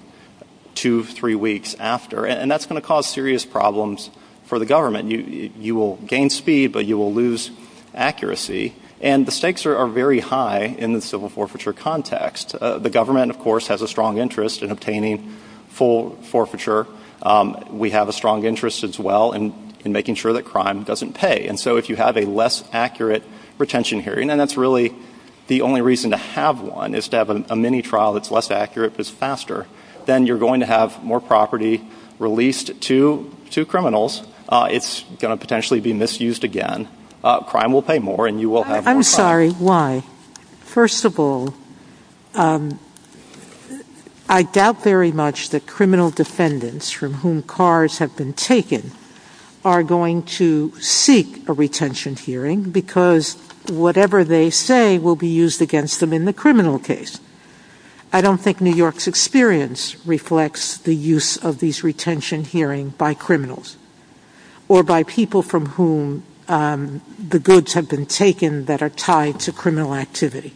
two, three weeks after, and that's going to cause serious problems for the government. You will gain speed, but you will lose accuracy, and the stakes are very high in the civil forfeiture context. The government, of course, has a strong interest in obtaining full forfeiture. We have a strong interest as well in making sure that crime doesn't pay. And so if you have a less accurate retention hearing, and that's really the only reason to have one, is to have a mini-trial that's less accurate but is faster, then you're going to have more property released to criminals. It's going to potentially be misused again. Crime will pay more and you will have more time. I'm sorry. Why? First of all, I doubt very much that criminal defendants from whom cars have been taken are going to seek a retention hearing because whatever they say will be used against them in the criminal case. I don't think New York's experience reflects the use of these retention hearings by criminals or by people from whom the goods have been taken that are tied to criminal activity.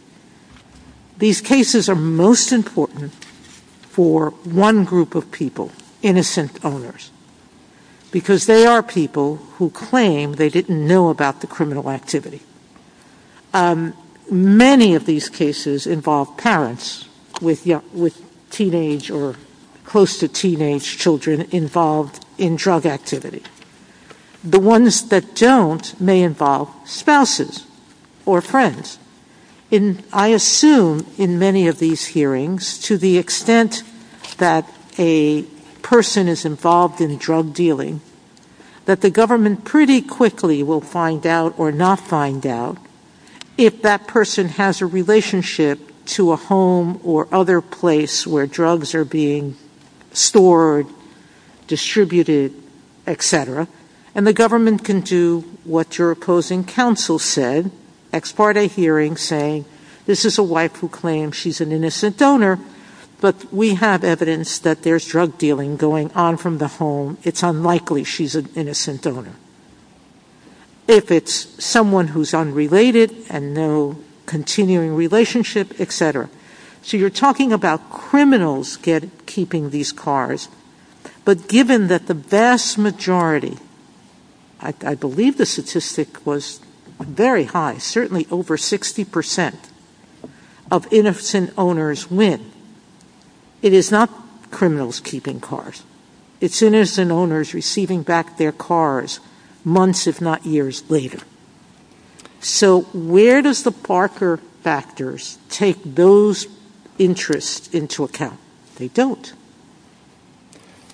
These cases are most important for one group of people, innocent owners, because they are people who claim they didn't know about the criminal activity. Many of these cases involve parents with teenage or close to teenage children involved in drug activity. The ones that don't may involve spouses or friends. I assume in many of these hearings, to the extent that a person is involved in drug dealing, that the government pretty quickly will find out or not find out if that person has a relationship to a home or other place where drugs are being stored, distributed, etc., and the government can do what your opposing counsel said, export a hearing saying this is a wife who claims she's an innocent donor, but we have evidence that there's drug dealing going on from the home. If it's someone who's unrelated and no continuing relationship, etc. So you're talking about criminals keeping these cars, but given that the vast majority, I believe the statistic was very high, certainly over 60% of innocent owners win, it is not criminals keeping cars. It's innocent owners receiving back their cars months if not years later. So where does the Parker factors take those interests into account? They don't.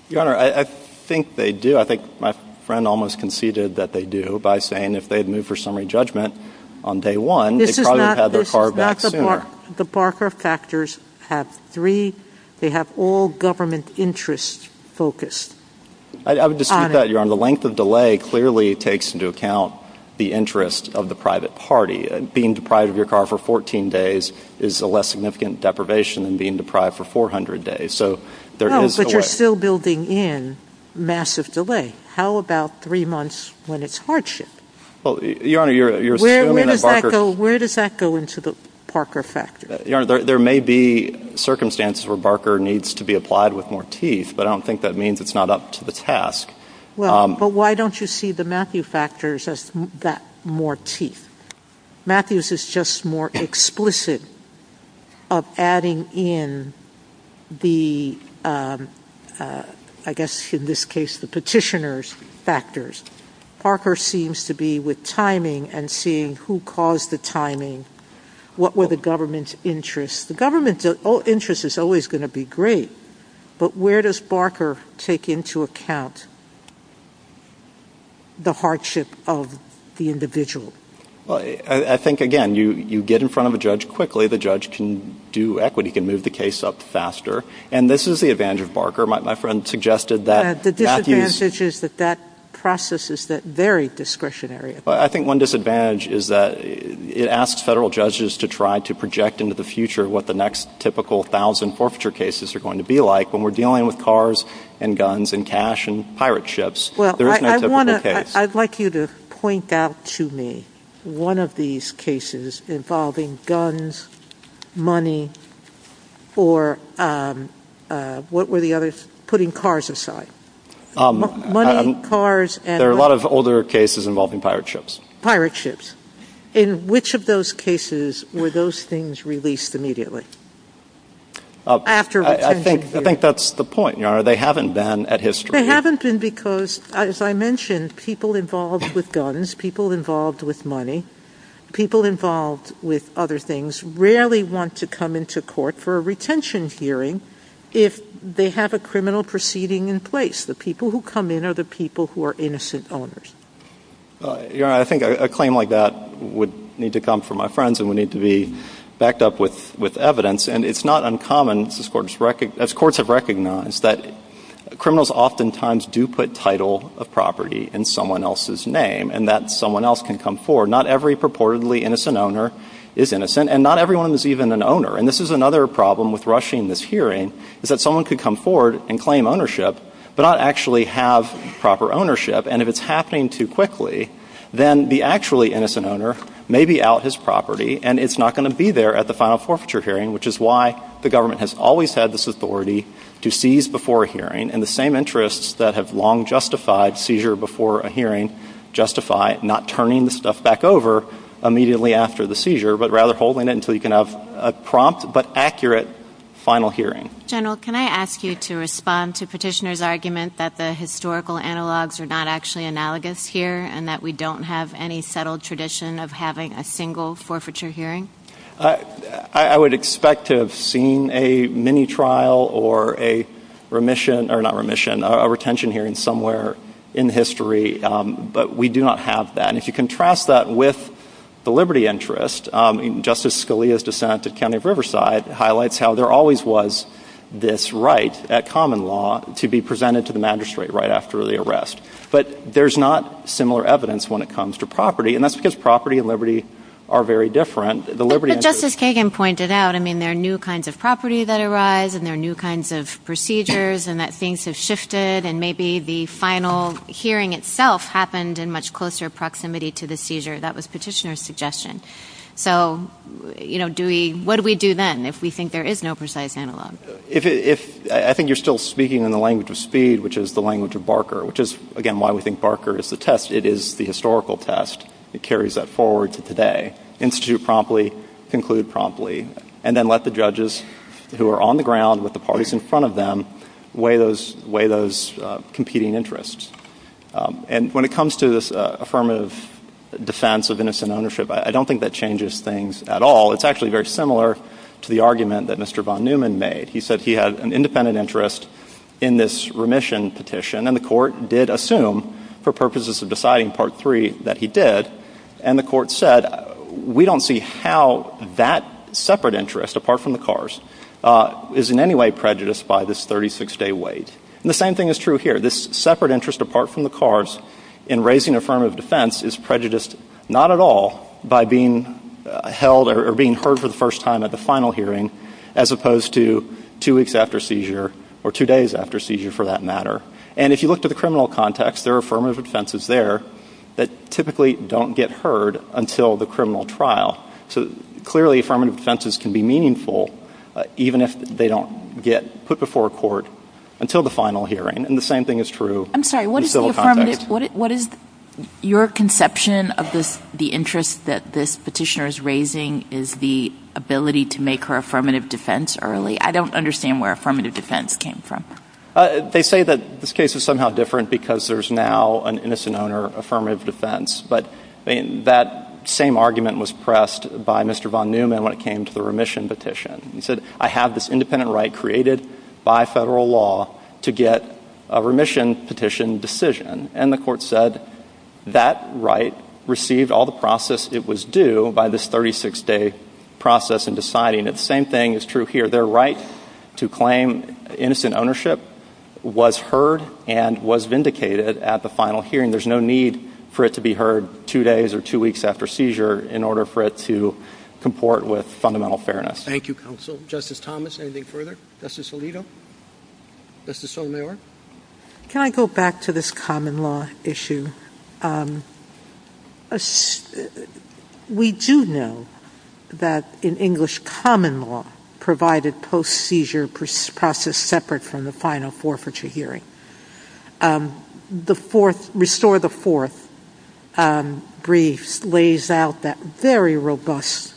Your Honor, I think they do. I think my friend almost conceded that they do by saying if they had moved for summary judgment on day one, they probably would have had their car back sooner. The Parker factors have three. They have all government interests focused. I would dispute that, Your Honor. The length of delay clearly takes into account the interests of the private party. Being deprived of your car for 14 days is a less significant deprivation than being deprived for 400 days. No, but you're still building in massive delay. How about three months when it's hardship? Where does that go into the Parker factors? Your Honor, there may be circumstances where Parker needs to be applied with more teeth, but I don't think that means it's not up to the task. But why don't you see the Matthew factors as that more teeth? Matthews is just more explicit of adding in the, I guess in this case, the petitioner's factors. Parker seems to be with timing and seeing who caused the timing. What were the government's interests? The government's interest is always going to be great, but where does Parker take into account the hardship of the individual? I think, again, you get in front of a judge quickly. The judge can do equity, can move the case up faster. And this is the advantage of Parker. The disadvantage is that that process is very discretionary. I think one disadvantage is that it asks federal judges to try to project into the future what the next typical thousand forfeiture cases are going to be like when we're dealing with cars and guns and cash and pirate ships. I'd like you to point out to me one of these cases involving guns, money, or what were the others? Putting cars aside. There are a lot of older cases involving pirate ships. Pirate ships. In which of those cases were those things released immediately? I think that's the point. They haven't been at history. They haven't been because, as I mentioned, people involved with guns, people involved with money, people involved with other things just rarely want to come into court for a retention hearing if they have a criminal proceeding in place. The people who come in are the people who are innocent owners. Your Honor, I think a claim like that would need to come from my friends and would need to be backed up with evidence. And it's not uncommon, as courts have recognized, that criminals oftentimes do put title of property in someone else's name and that someone else can come forward. Not every purportedly innocent owner is innocent. And not everyone is even an owner. And this is another problem with rushing this hearing is that someone could come forward and claim ownership but not actually have proper ownership. And if it's happening too quickly, then the actually innocent owner may be out his property and it's not going to be there at the final forfeiture hearing, which is why the government has always had this authority to seize before a hearing in the same interests that have long justified seizure before a hearing justify not turning the stuff back over immediately after the seizure but rather holding it until you can have a prompt but accurate final hearing. General, can I ask you to respond to Petitioner's argument that the historical analogs are not actually analogous here and that we don't have any settled tradition of having a single forfeiture hearing? I would expect to have seen a mini-trial or a remission, or not remission, a retention hearing somewhere in history. But we do not have that. And if you contrast that with the liberty interest, Justice Scalia's dissent at the County of Riverside highlights how there always was this right at common law to be presented to the magistrate right after the arrest. But there's not similar evidence when it comes to property, and that's because property and liberty are very different. But Justice Kagan pointed out there are new kinds of property that arise and there are new kinds of procedures and that things have shifted and maybe the final hearing itself happened in much closer proximity to the seizure. That was Petitioner's suggestion. So what do we do then if we think there is no precise analog? I think you're still speaking in the language of speed, which is the language of Barker, which is, again, why we think Barker is the test. It is the historical test that carries that forward to today. Institute promptly, conclude promptly, and then let the judges who are on the ground with the parties in front of them weigh those competing interests. And when it comes to this affirmative defense of innocent ownership, I don't think that changes things at all. It's actually very similar to the argument that Mr. von Neumann made. He said he had an independent interest in this remission petition, and the court did assume for purposes of deciding Part 3 that he did, and the court said we don't see how that separate interest, apart from the cars, is in any way prejudiced by this 36-day wait. And the same thing is true here. This separate interest apart from the cars in raising affirmative defense is prejudiced not at all by being held or being heard for the first time at the final hearing as opposed to two weeks after seizure or two days after seizure, for that matter. And if you look to the criminal context, there are affirmative defenses there that typically don't get heard until the criminal trial. So clearly, affirmative defenses can be meaningful even if they don't get put before a court until the final hearing. And the same thing is true in civil context. I'm sorry, what is your conception of the interest that this petitioner is raising is the ability to make her affirmative defense early? I don't understand where affirmative defense came from. They say that this case is somehow different because there's now an innocent owner affirmative defense. But that same argument was pressed by Mr. Von Neumann when it came to the remission petition. He said, I have this independent right created by federal law to get a remission petition decision. And the court said that right received all the process it was due by this 36-day process in deciding that the same thing is true here. Their right to claim innocent ownership was heard and was vindicated at the final hearing. There's no need for it to be heard two days or two weeks after seizure in order for it to comport with fundamental fairness. Thank you, counsel. Justice Thomas, anything further? Justice Alito? Justice Sotomayor? Can I go back to this common law issue? We do know that in English, common law provided post-seizure process separate from the final forfeiture hearing. The fourth, restore the fourth brief lays out that very robust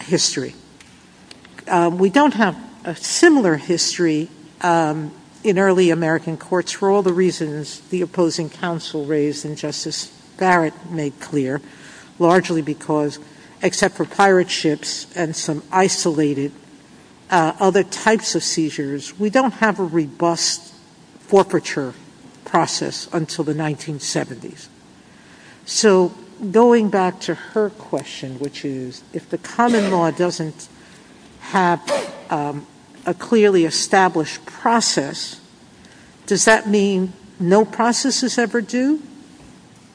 history. We don't have a similar history in early American courts for all the reasons the opposing counsel raised and Justice Barrett made clear, largely because except for pirate ships and some isolated other types of seizures, we don't have a robust forfeiture process until the 1970s. So going back to her question, which is if the common law doesn't have a clearly established process, does that mean no process is ever due?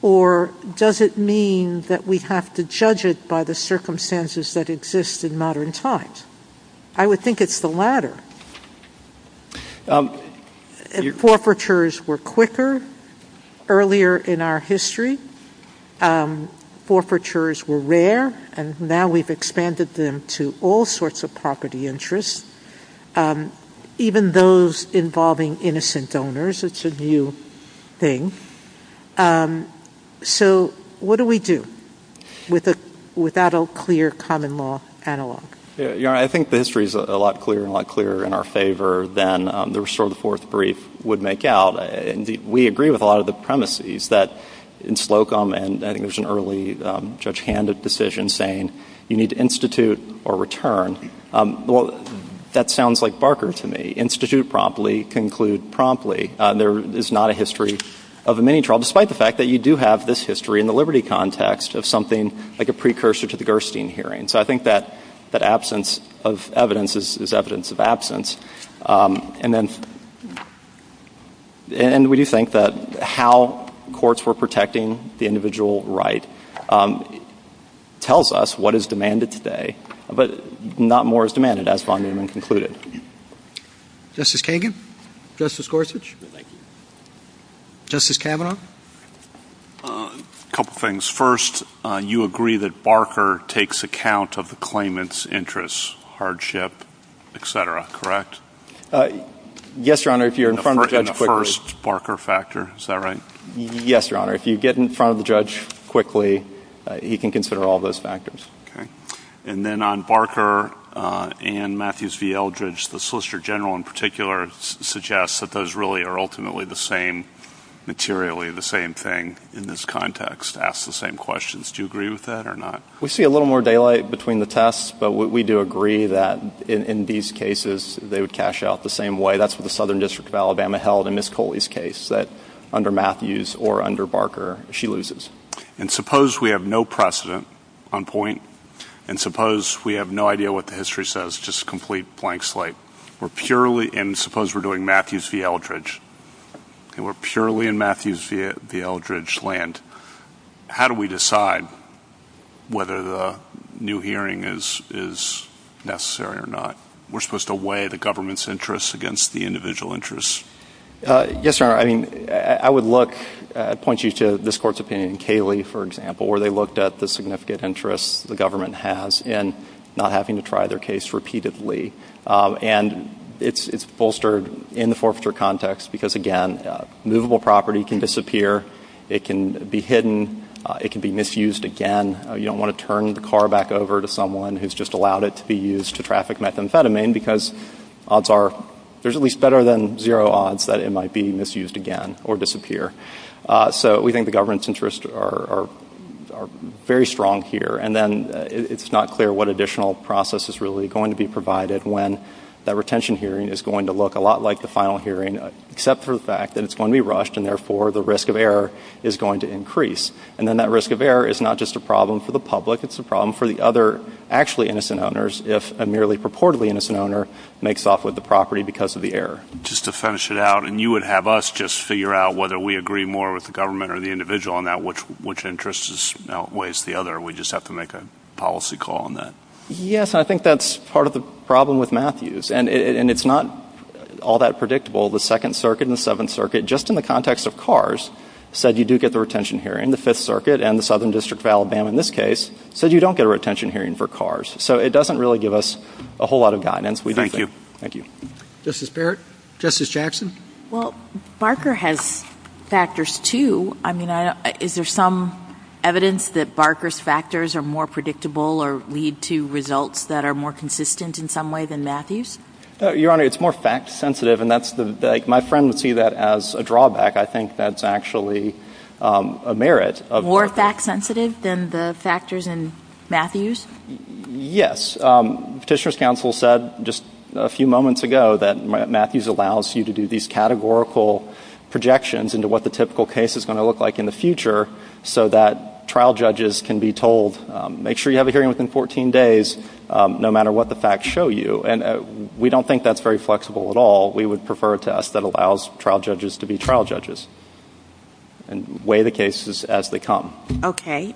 Or does it mean that we have to judge it by the circumstances that exist in modern times? I would think it's the latter. Forfeitures were quicker earlier in our history. Forfeitures were rare, and now we've expanded them to all sorts of property interests, even those involving innocent donors. It's a new thing. So what do we do with that old clear common law analog? I think the history is a lot clearer and a lot clearer in our favor than the restore the fourth brief would make out. We agree with a lot of the premises that in Slocum, and I think it was an early judge-handed decision saying you need to institute or return. That sounds like Barker to me. Institute promptly, conclude promptly. There is not a history of a mini-trial, despite the fact that you do have this history in the liberty context of something like a precursor to the Gerstein hearing. So I think that absence of evidence is evidence of absence. We do think that how courts were protecting the individual right tells us what is demanded today, but not more is demanded as long as it's included. Justice Kagan? Justice Gorsuch? Thank you. Justice Kavanaugh? A couple things. First, you agree that Barker takes account of the claimant's interests, hardship, etc., correct? Yes, Your Honor, if you're in front of the judge quickly. In the first Barker factor, is that right? Yes, Your Honor. If you get in front of the judge quickly, he can consider all those factors. And then on Barker and Matthews v. Eldridge, the Solicitor General in particular suggests that those really are ultimately the same, materially the same thing in this context, ask the same questions. Do you agree with that or not? We see a little more daylight between the tests, but we do agree that in these cases, they would cash out the same way. That's what the Southern District of Alabama held in Ms. Coley's case, that under Matthews or under Barker, she loses. And suppose we have no precedent on point, and suppose we have no idea what the history says, just a complete blank slate. And suppose we're doing Matthews v. Eldridge, and we're purely in Matthews v. Eldridge land. How do we decide whether the new hearing is necessary or not? We're supposed to weigh the government's interests against the individual interests. Yes, Your Honor. I would point you to this court's opinion in Cayley, for example, where they looked at the significant interests the government has in not having to try their case repeatedly. And it's bolstered in the forfeiture context because, again, movable property can disappear. It can be hidden. It can be misused again. You don't want to turn the car back over to someone who's just allowed it to be used to traffic methamphetamine because there's at least better than zero odds that it might be misused again or disappear. So we think the government's interests are very strong here. And then it's not clear what additional process is really going to be provided when that retention hearing is going to look a lot like the final hearing, except for the fact that it's going to be rushed, and therefore the risk of error is going to increase. And then that risk of error is not just a problem for the public. It's a problem for the other actually innocent owners if a merely purportedly innocent owner makes off with the property because of the error. Just to finish it out, and you would have us just figure out whether we agree more with the government or the individual on that, which interest outweighs the other, or we just have to make a policy call on that? Yes, and I think that's part of the problem with Matthews. And it's not all that predictable. The Second Circuit and the Seventh Circuit, just in the context of cars, said you do get the retention hearing. And the Fifth Circuit and the Southern District of Alabama, in this case, said you don't get a retention hearing for cars. So it doesn't really give us a whole lot of guidance. Thank you. Thank you. Justice Barrett? Justice Jackson? Well, Barker has factors, too. I mean, is there some evidence that Barker's factors are more predictable or lead to results that are more consistent in some way than Matthews? Your Honor, it's more fact-sensitive, and my friend would see that as a drawback. I think that's actually a merit. More fact-sensitive than the factors in Matthews? Yes. Petitioner's counsel said just a few moments ago that Matthews allows you to do these categorical projections into what the typical case is going to look like in the future so that trial judges can be told, make sure you have a hearing within 14 days no matter what the facts show you. And we don't think that's very flexible at all. We would prefer a test that allows trial judges to be trial judges and weigh the cases as they come. Okay.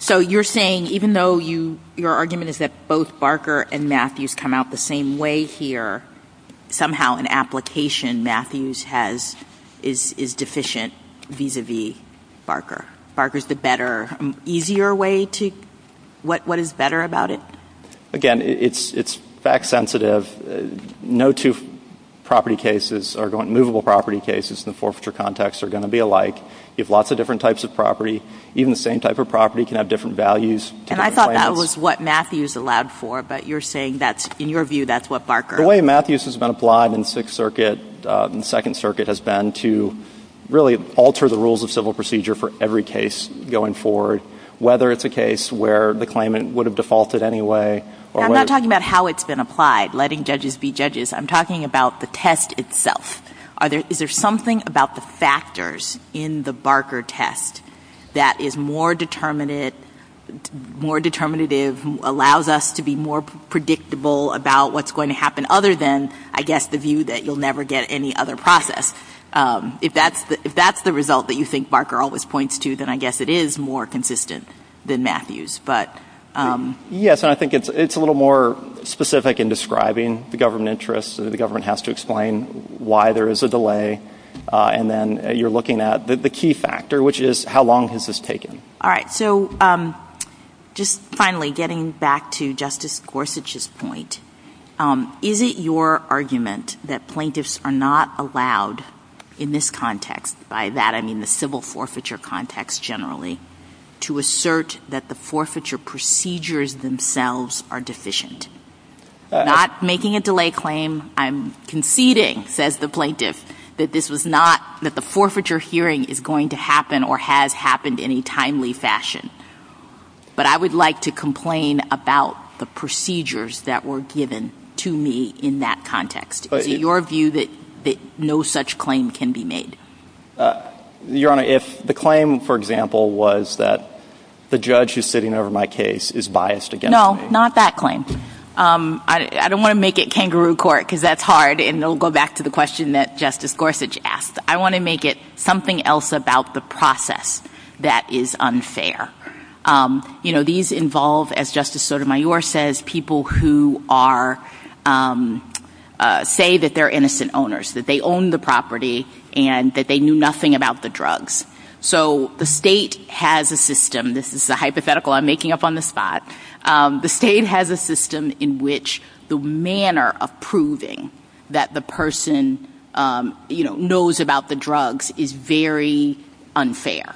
So you're saying even though your argument is that both Barker and Matthews come out the same way here, somehow an application Matthews has is deficient vis-à-vis Barker. Barker's the better, easier way to go? What is better about it? Again, it's fact-sensitive. No two property cases or movable property cases in the forfeiture context are going to be alike. You have lots of different types of property. Even the same type of property can have different values. And I thought that was what Matthews allowed for, but you're saying that's, in your view, that's what Barker. The way Matthews has been applied in the Second Circuit has been to really alter the rules of civil procedure for every case going forward, whether it's a case where the claimant would have defaulted anyway. I'm not talking about how it's been applied, letting judges be judges. I'm talking about the test itself. Is there something about the factors in the Barker test that is more determinative, allows us to be more predictable about what's going to happen, other than, I guess, the view that you'll never get any other process. If that's the result that you think Barker always points to, then I guess it is more consistent than Matthews. Yes, I think it's a little more specific in describing the government interests. The government has to explain why there is a delay. And then you're looking at the key factor, which is how long has this taken. All right, so just finally, getting back to Justice Gorsuch's point, is it your argument that plaintiffs are not allowed in this context, by that I mean the civil forfeiture context generally, to assert that the forfeiture procedures themselves are deficient? Not making a delay claim, I'm conceding, says the plaintiff, that the forfeiture hearing is going to happen or has happened in a timely fashion. But I would like to complain about the procedures that were given to me in that context. Is it your view that no such claim can be made? Your Honor, if the claim, for example, was that the judge who's sitting over my case is biased against me. No, not that claim. I don't want to make it kangaroo court, because that's hard, and it'll go back to the question that Justice Gorsuch asked. I want to make it something else about the process that is unfair. You know, these involve, as Justice Sotomayor says, people who say that they're innocent owners, that they own the property and that they knew nothing about the drugs. So the state has a system, this is a hypothetical I'm making up on the spot, the state has a system in which the manner of proving that the person knows about the drugs is very unfair.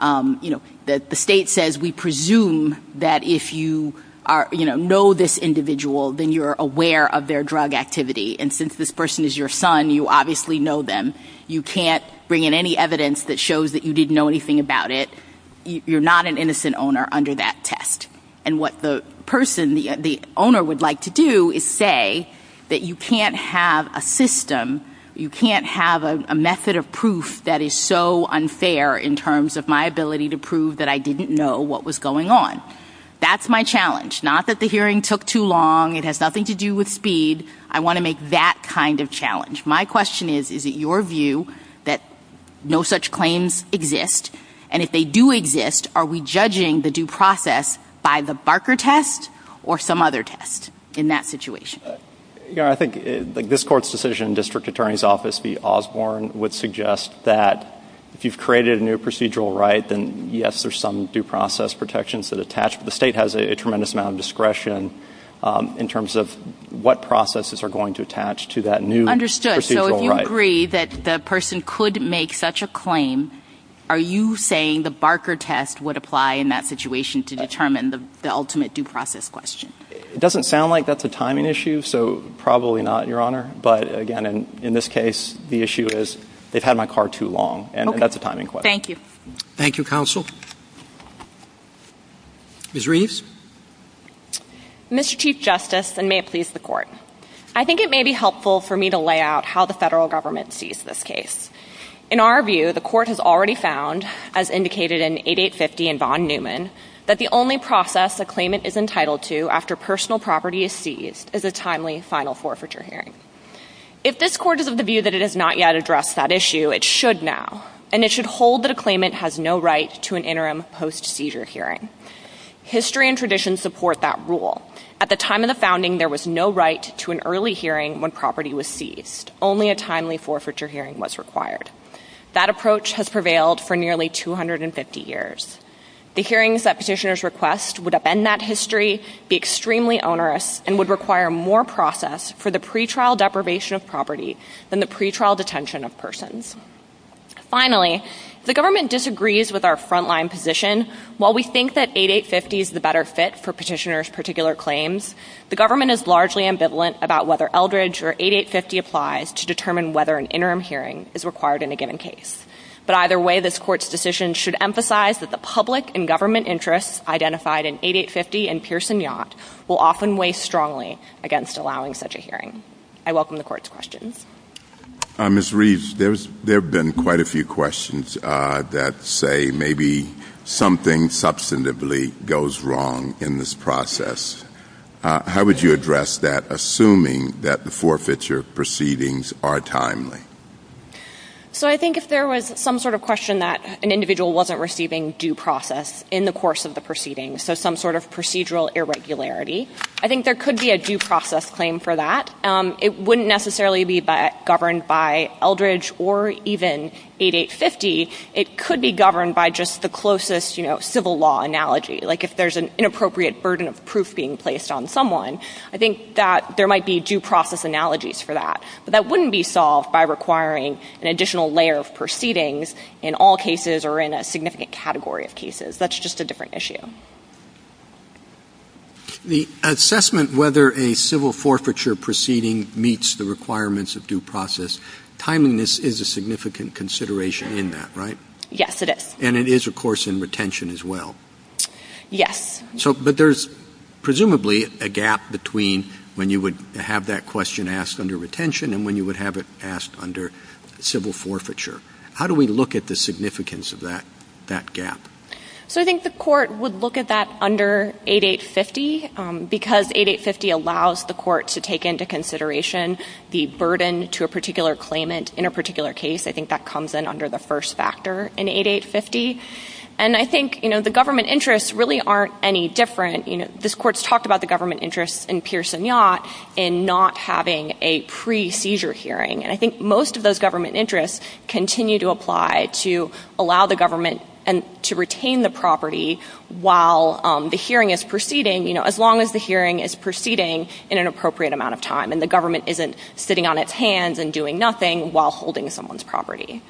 The state says we presume that if you know this individual, then you're aware of their drug activity. And since this person is your son, you obviously know them. You can't bring in any evidence that shows that you didn't know anything about it. You're not an innocent owner under that test. And what the owner would like to do is say that you can't have a system, you can't have a method of proof that is so unfair in terms of my ability to prove that I didn't know what was going on. That's my challenge. Not that the hearing took too long, it has nothing to do with speed. I want to make that kind of challenge. My question is, is it your view that no such claims exist? And if they do exist, are we judging the due process by the Barker test or some other test in that situation? I think this court's decision, District Attorney's Office v. Osborne, would suggest that if you've created a new procedural right, then yes, there's some due process protections that attach. The state has a tremendous amount of discretion in terms of what processes are going to attach to that new procedural right. Understood. So if you agree that the person could make such a claim, are you saying the Barker test would apply in that situation to determine the ultimate due process question? It doesn't sound like that's a timing issue, so probably not, Your Honor. But again, in this case, the issue is they've had my car too long, and that's a timing question. Thank you. Thank you, Counsel. Ms. Reeves? Mr. Chief Justice, and may it please the Court, I think it may be helpful for me to lay out how the federal government sees this case. In our view, the Court has already found, as indicated in 8850 and Don Newman, that the only process a claimant is entitled to after personal property is seized is a timely final forfeiture hearing. If this Court is of the view that it has not yet addressed that issue, it should now, and it should hold that a claimant has no right to an interim post-seizure hearing. History and tradition support that rule. At the time of the founding, there was no right to an early hearing when property was seized. Only a timely forfeiture hearing was required. That approach has prevailed for nearly 250 years. The hearings that petitioners request would upend that history, be extremely onerous, and would require more process for the pretrial deprivation of property than the pretrial detention of persons. Finally, the government disagrees with our frontline position. While we think that 8850 is the better fit for petitioners' particular claims, the government is largely ambivalent about whether Eldridge or 8850 applies to determine whether an interim hearing is required in a given case. But either way, this Court's decision should emphasize that the public and government interests identified in 8850 and Pearson-Yacht will often weigh strongly against allowing such a hearing. I welcome the Court's questions. Ms. Reeds, there have been quite a few questions that say maybe something substantively goes wrong in this process. How would you address that, assuming that the forfeiture proceedings are timely? I think if there was some sort of question that an individual wasn't receiving due process in the course of the proceedings, so some sort of procedural irregularity, I think there could be a due process claim for that. It wouldn't necessarily be governed by Eldridge or even 8850. It could be governed by just the closest civil law analogy. Like if there's an inappropriate burden of proof being placed on someone, I think that there might be due process analogies for that. But that wouldn't be solved by requiring an additional layer of proceedings in all cases or in a significant category of cases. That's just a different issue. The assessment whether a civil forfeiture proceeding meets the requirements of due process, timeliness is a significant consideration in that, right? Yes, it is. And it is, of course, in retention as well. Yes. But there's presumably a gap between when you would have that question asked under retention and when you would have it asked under civil forfeiture. How do we look at the significance of that gap? I think the court would look at that under 8850 because 8850 allows the court to take into consideration the burden to a particular claimant in a particular case. I think that comes in under the first factor in 8850. And I think the government interests really aren't any different. This court's talked about the government interests in Pearson Yacht in not having a pre-seizure hearing. And I think most of those government interests continue to apply to allow the government to retain the property while the hearing is proceeding, as long as the hearing is proceeding in an appropriate amount of time and the government isn't sitting on its hands and doing nothing while holding someone's property.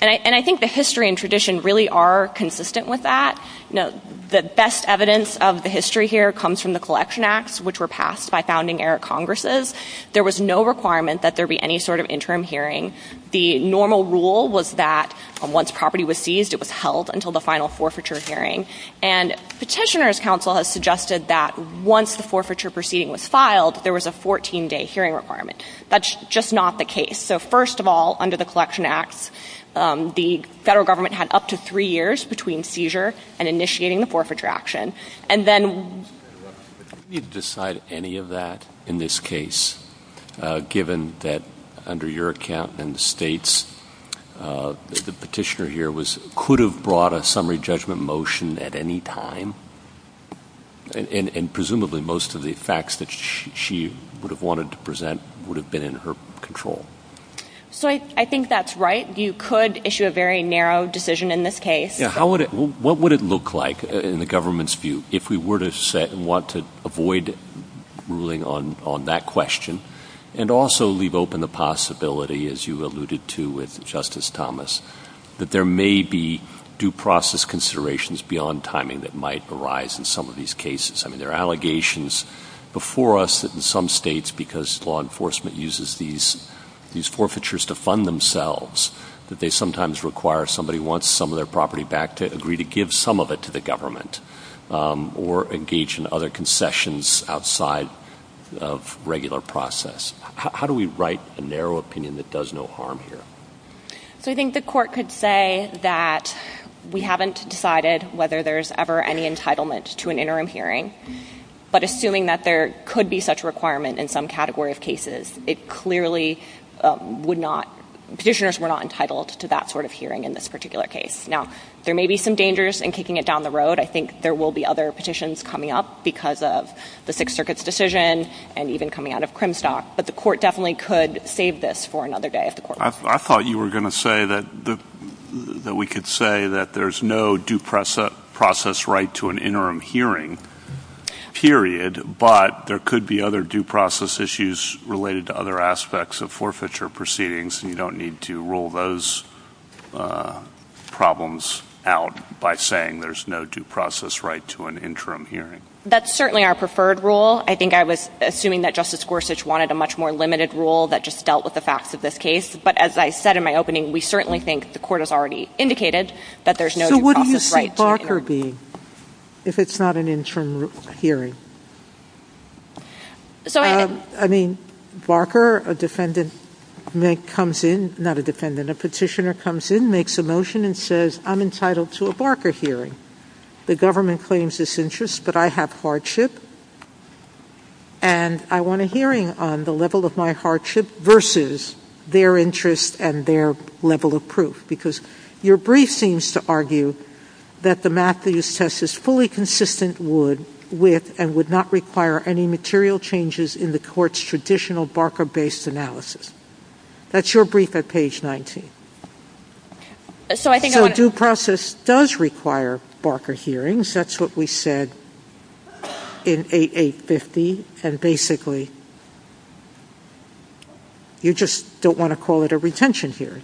And I think the history and tradition really are consistent with that. The best evidence of the history here comes from the Collection Acts, which were passed by founding-era Congresses. There was no requirement that there be any sort of interim hearing. The normal rule was that once property was seized, it was held until the final forfeiture hearing. And Petitioner's Council has suggested that once the forfeiture proceeding was filed, there was a 14-day hearing requirement. That's just not the case. So first of all, under the Collection Acts, the federal government had up to three years between seizure and initiating the forfeiture action. And then... Did you decide any of that in this case, given that under your account and the state's, the petitioner here could have brought a summary judgment motion at any time? And presumably most of the facts that she would have wanted to present would have been in her control. So I think that's right. You could issue a very narrow decision in this case. What would it look like in the government's view if we were to want to avoid ruling on that question and also leave open the possibility, as you alluded to with Justice Thomas, that there may be due process considerations beyond timing that might arise in some of these cases? I mean, there are allegations before us that in some states, because law enforcement uses these forfeitures to fund themselves, that they sometimes require somebody who wants some of their property back to agree to give some of it to the government or engage in other concessions outside of regular process. How do we write a narrow opinion that does no harm here? I think the court could say that we haven't decided whether there's ever any entitlement to an interim hearing, but assuming that there could be such a requirement in some category of cases, it clearly would not... Petitioners were not entitled to that sort of hearing in this particular case. Now, there may be some dangers in kicking it down the road. I think there will be other petitions coming up because of the Sixth Circuit's decision and even coming out of Crimstock, but the court definitely could save this for another day if the court wants to. I thought you were going to say that we could say that there's no due process right to an interim hearing, period, but there could be other due process issues related to other aspects of forfeiture proceedings and you don't need to rule those problems out by saying there's no due process right to an interim hearing. That's certainly our preferred rule. I think I was assuming that Justice Gorsuch wanted a much more limited rule that just dealt with the facts of this case, but as I said in my opening, we certainly think the court has already indicated that there's no due process right to an interim hearing. So what do you see Barker being if it's not an interim hearing? I mean, Barker, a petitioner comes in, makes a motion and says, I'm entitled to a Barker hearing. The government claims this interest, but I have hardship and I want a hearing on the level of my hardship versus their interest and their level of proof because your brief seems to argue that the Matthews test is fully consistent with and would not require any material changes in the court's traditional Barker-based analysis. That's your brief at page 19. So a due process does require Barker hearings. That's what we said in 8850, and basically you just don't want to call it a retention hearing.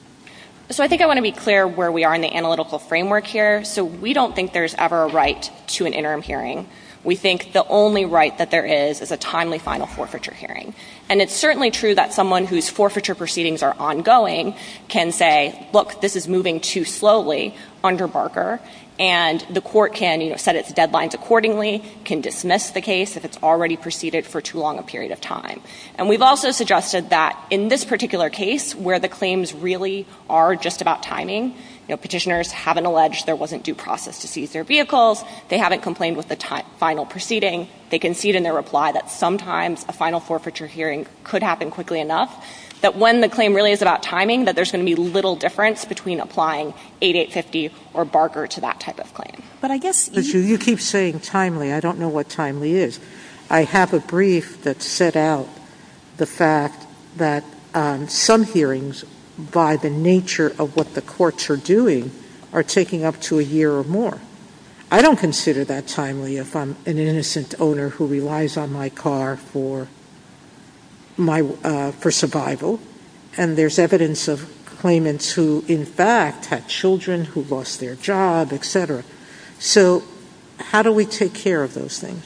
So I think I want to be clear where we are in the analytical framework here. So we don't think there's ever a right to an interim hearing. We think the only right that there is is a timely final forfeiture hearing. And it's certainly true that someone whose forfeiture proceedings are ongoing can say, look, this is moving too slowly under Barker, and the court can set its deadlines accordingly, can dismiss the case if it's already proceeded for too long a period of time. And we've also suggested that in this particular case where the claims really are just about timing, petitioners haven't alleged there wasn't due process to seize their vehicles, they haven't complained with a final proceeding, they concede in their reply that sometimes a final forfeiture hearing could happen quickly enough, that when the claim really is about timing, that there's going to be little difference between applying 8850 or Barker to that type of claim. But I guess you keep saying timely. I don't know what timely is. I have a brief that set out the fact that some hearings, by the nature of what the courts are doing, are taking up to a year or more. I don't consider that timely if I'm an innocent owner who relies on my car for survival. And there's evidence of claimants who, in fact, had children who lost their job, et cetera. So how do we take care of those things?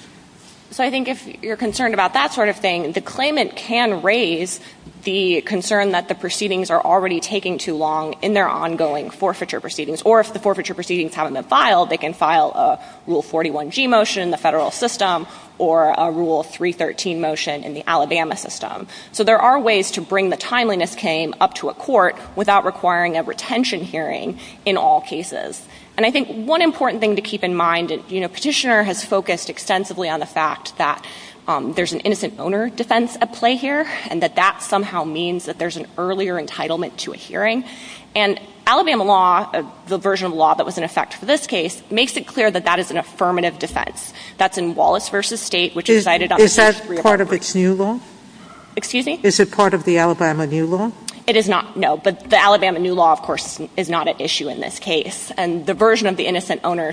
So I think if you're concerned about that sort of thing, the claimant can raise the concern that the proceedings are already taking too long in their ongoing forfeiture proceedings, or if the forfeiture proceedings haven't been filed, they can file a Rule 41G motion in the federal system or a Rule 313 motion in the Alabama system. So there are ways to bring the timeliness game up to a court without requiring a retention hearing in all cases. And I think one important thing to keep in mind, a petitioner has focused extensively on the fact that there's an innocent owner defense at play here and that that somehow means that there's an earlier entitlement to a hearing. And Alabama law, the version of law that was in effect for this case, makes it clear that that is an affirmative defense. That's in Wallace v. State, which is cited on the first three articles. Is that part of its new law? Excuse me? Is it part of the Alabama new law? It is not, no. The Alabama new law, of course, is not an issue in this case. And the version of the innocent owner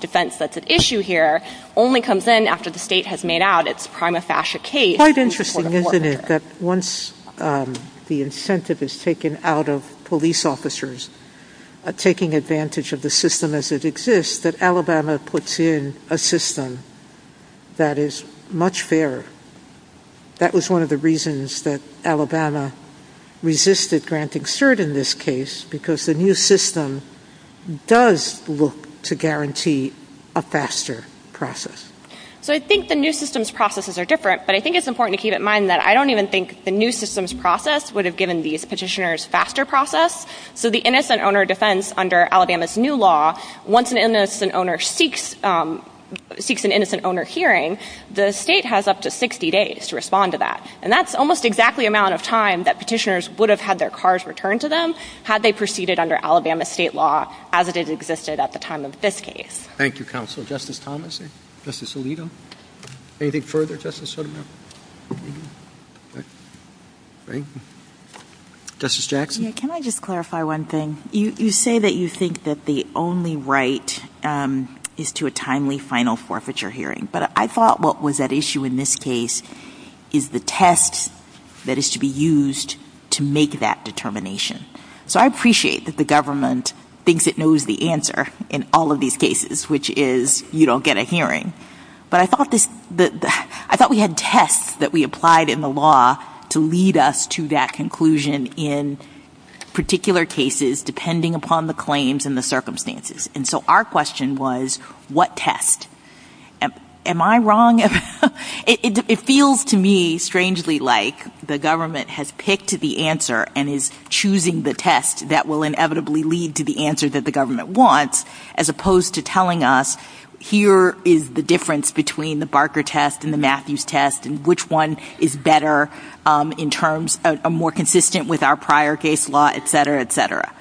defense that's at issue here only comes in after the state has made out its prima facie case. Quite interesting, isn't it, that once the incentive is taken out of police officers taking advantage of the system as it exists, that Alabama puts in a system that is much fairer. That was one of the reasons that Alabama resisted granting cert in this case because the new system does look to guarantee a faster process. So I think the new system's processes are different, but I think it's important to keep in mind that I don't even think the new system's process would have given these petitioners faster process. So the innocent owner defense under Alabama's new law, once an innocent owner seeks an innocent owner hearing, the state has up to 60 days to respond to that. And that's almost exactly the amount of time that petitioners would have had their cars returned to them had they proceeded under Alabama's state law as it has existed at the time of this case. Thank you, Counsel. Justice Thomas? Justice Alito? Anything further, Justice Sotomayor? Justice Jackson? Can I just clarify one thing? You say that you think that the only right is to a timely final forfeiture hearing, but I thought what was at issue in this case is the test that is to be used to make that determination. So I appreciate that the government thinks it knows the answer in all of these cases, which is, you don't get a hearing. But I thought we had tests that we applied in the law to lead us to that conclusion in particular cases depending upon the claims and the circumstances. And so our question was, what test? Am I wrong? It feels to me strangely like the government has picked the answer and is choosing the test that will inevitably lead to the answer that the government wants as opposed to telling us, here is the difference between the Barker test and the Matthews test and which one is better in terms of more consistent with our prior case law, et cetera, et cetera.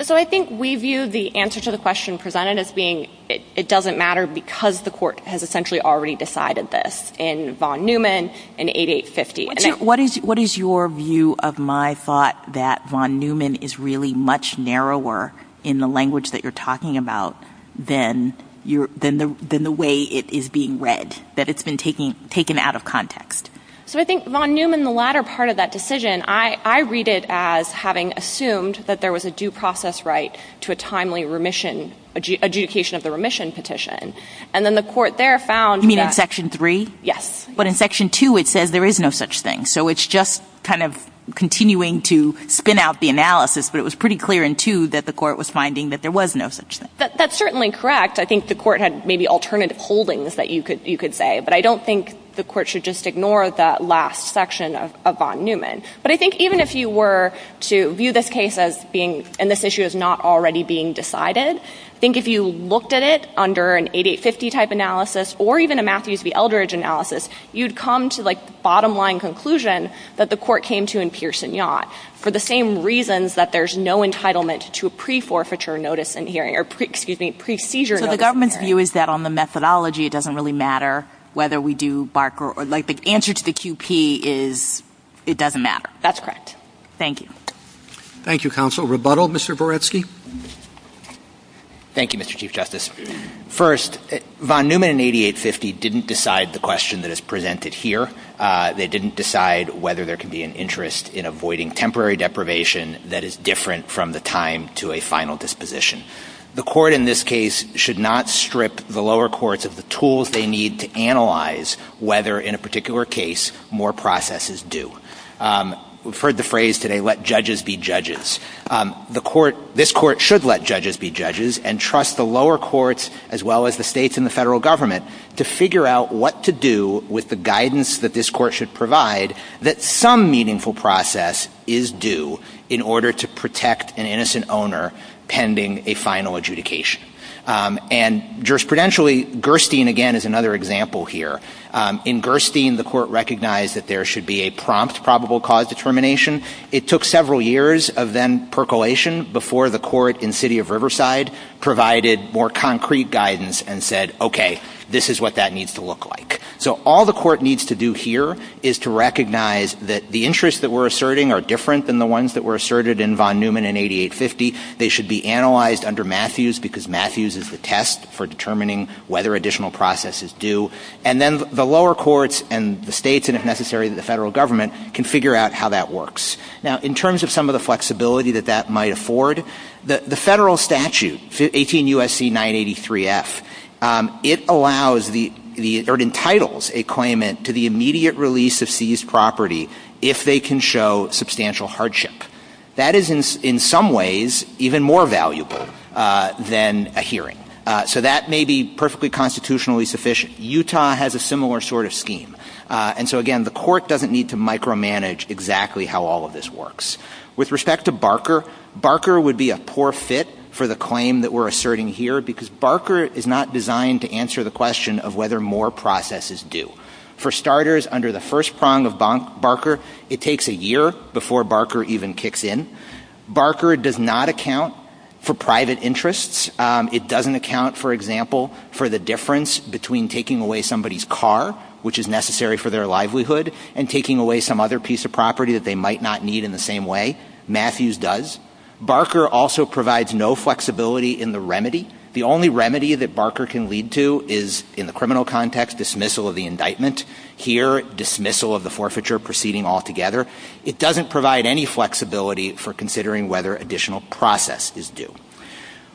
So I think we view the answer to the question presented as being it doesn't matter because the court has essentially already decided this in von Neumann in 8850. What is your view of my thought that von Neumann is really much narrower in the language that you're talking about than the way it is being read, that it's been taken out of context? So I think von Neumann, the latter part of that decision, I read it as having assumed that there was a due process right to a timely remission, adjudication of the remission petition. And then the court there found that... You mean in Section 3? Yes. But in Section 2, it says there is no such thing. So it's just kind of continuing to spin out the analysis, but it was pretty clear in 2 that the court was finding that there was no such thing. That's certainly correct. I think the court had maybe alternative holdings that you could say, but I don't think the court should just ignore that last section of von Neumann. But I think even if you were to view this case as being, and this issue is not already being decided, I think if you looked at it under an 8850 type analysis or even a Matthews v. Eldridge analysis, you'd come to the bottom-line conclusion that the court came to in Pearson Yacht for the same reasons that there's no entitlement to a pre-forfeiture notice in here, or, excuse me, pre-seizure notice. So the government's view is that on the methodology, it doesn't really matter whether we do Barker, or the answer to the QP is it doesn't matter. That's correct. Thank you. Thank you, Counsel. Rebuttal, Mr. Boretsky. Thank you, Mr. Chief Justice. First, von Neumann and 8850 didn't decide the question that is presented here. They didn't decide whether there could be an interest in avoiding temporary deprivation that is different from the time to a final disposition. The court in this case should not strip the lower courts of the tools they need to analyze whether in a particular case more process is due. We've heard the phrase today, let judges be judges. This court should let judges be judges and trust the lower courts as well as the states and the federal government to figure out what to do with the guidance that this court should provide that some meaningful process is due in order to protect an innocent owner pending a final adjudication. And jurisprudentially, Gerstein, again, is another example here. In Gerstein, the court recognized that there should be a prompt probable cause determination. It took several years of then percolation before the court in City of Riverside provided more concrete guidance and said, okay, this is what that needs to look like. So all the court needs to do here is to recognize that the interests that we're asserting are different than the ones that were asserted in von Neumann and 8850. They should be analyzed under Matthews because Matthews is the test for determining whether additional process is due. And then the lower courts and the states, and if necessary, the federal government, can figure out how that works. Now, in terms of some of the flexibility that that might afford, the federal statute, 18 U.S.C. 983 F, it allows or entitles a claimant to the immediate release of seized property if they can show substantial hardship. That is in some ways even more valuable than a hearing. So that may be perfectly constitutionally sufficient. Utah has a similar sort of scheme. And so, again, the court doesn't need to micromanage exactly how all of this works. With respect to Barker, Barker would be a poor fit for the claim that we're asserting here because Barker is not designed to answer the question of whether more process is due. For starters, under the first prong of Barker, it takes a year before Barker even kicks in. Barker does not account for private interests. It doesn't account, for example, for the difference between taking away somebody's car, which is necessary for their livelihood, and taking away some other piece of property that they might not need in the same way. Matthews does. Barker also provides no flexibility in the remedy. The only remedy that Barker can lead to is, in the criminal context, dismissal of the indictment. Here, dismissal of the forfeiture proceeding altogether. It doesn't provide any flexibility for considering whether additional process is due.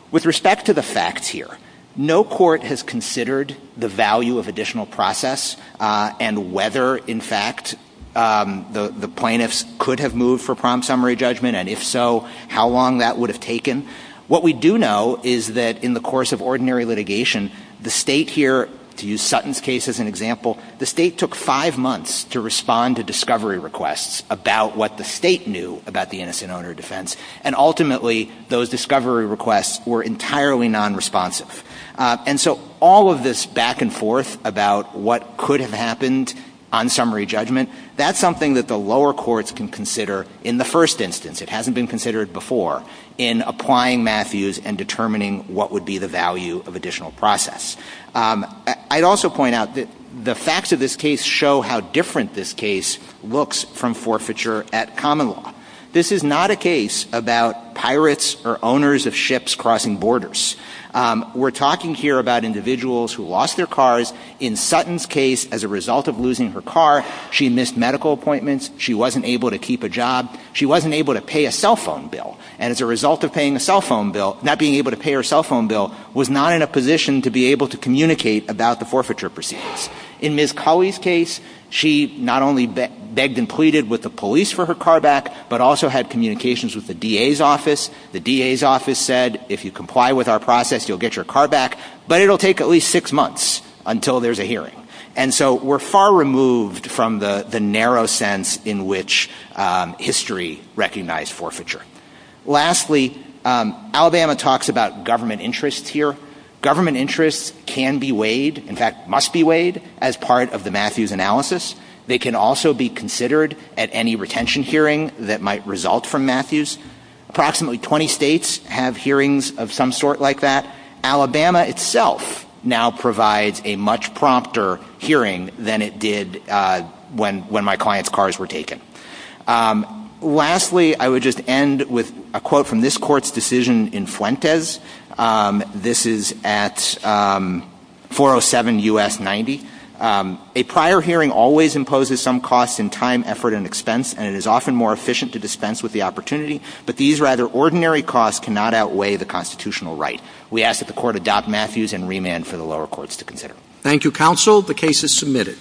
With respect to the facts here, no court has considered the value of additional process and whether, in fact, the plaintiffs could have moved for prompt summary judgment, and if so, how long that would have taken. What we do know is that in the course of ordinary litigation, the state here, to use Sutton's case as an example, the state took five months to respond to discovery requests about what the state knew about the innocent owner defense, and ultimately those discovery requests were entirely nonresponsive. And so all of this back and forth about what could have happened on summary judgment, that's something that the lower courts can consider in the first instance. It hasn't been considered before in applying Matthews and determining what would be the value of additional process. I'd also point out that the facts of this case show how different this case looks from forfeiture at common law. This is not a case about pirates or owners of ships crossing borders. We're talking here about individuals who lost their cars. In Sutton's case, as a result of losing her car, she missed medical appointments. She wasn't able to keep a job. She wasn't able to pay a cell phone bill, and as a result of paying a cell phone bill, not being able to pay her cell phone bill, was not in a position to be able to communicate about the forfeiture proceedings. In Ms. Cauley's case, she not only begged and pleaded with the police for her car back, but also had communications with the DA's office. The DA's office said, if you comply with our process, you'll get your car back, but it'll take at least six months until there's a hearing. And so we're far removed from the narrow sense in which history recognized forfeiture. Lastly, Alabama talks about government interests here. Government interests can be weighed, in fact, must be weighed, as part of the Matthews analysis. They can also be considered at any retention hearing that might result from Matthews. Approximately 20 states have hearings of some sort like that. Alabama itself now provides a much prompter hearing than it did when my client's cars were taken. Lastly, I would just end with a quote from this court's decision in Fuentes. This is at 407 U.S. 90. A prior hearing always imposes some cost in time, effort, and expense, and it is often more efficient to dispense with the opportunity, but these rather ordinary costs cannot outweigh the constitutional right. We ask that the court adopt Matthews and remand for the lower courts to consider. Thank you, counsel. The case is submitted.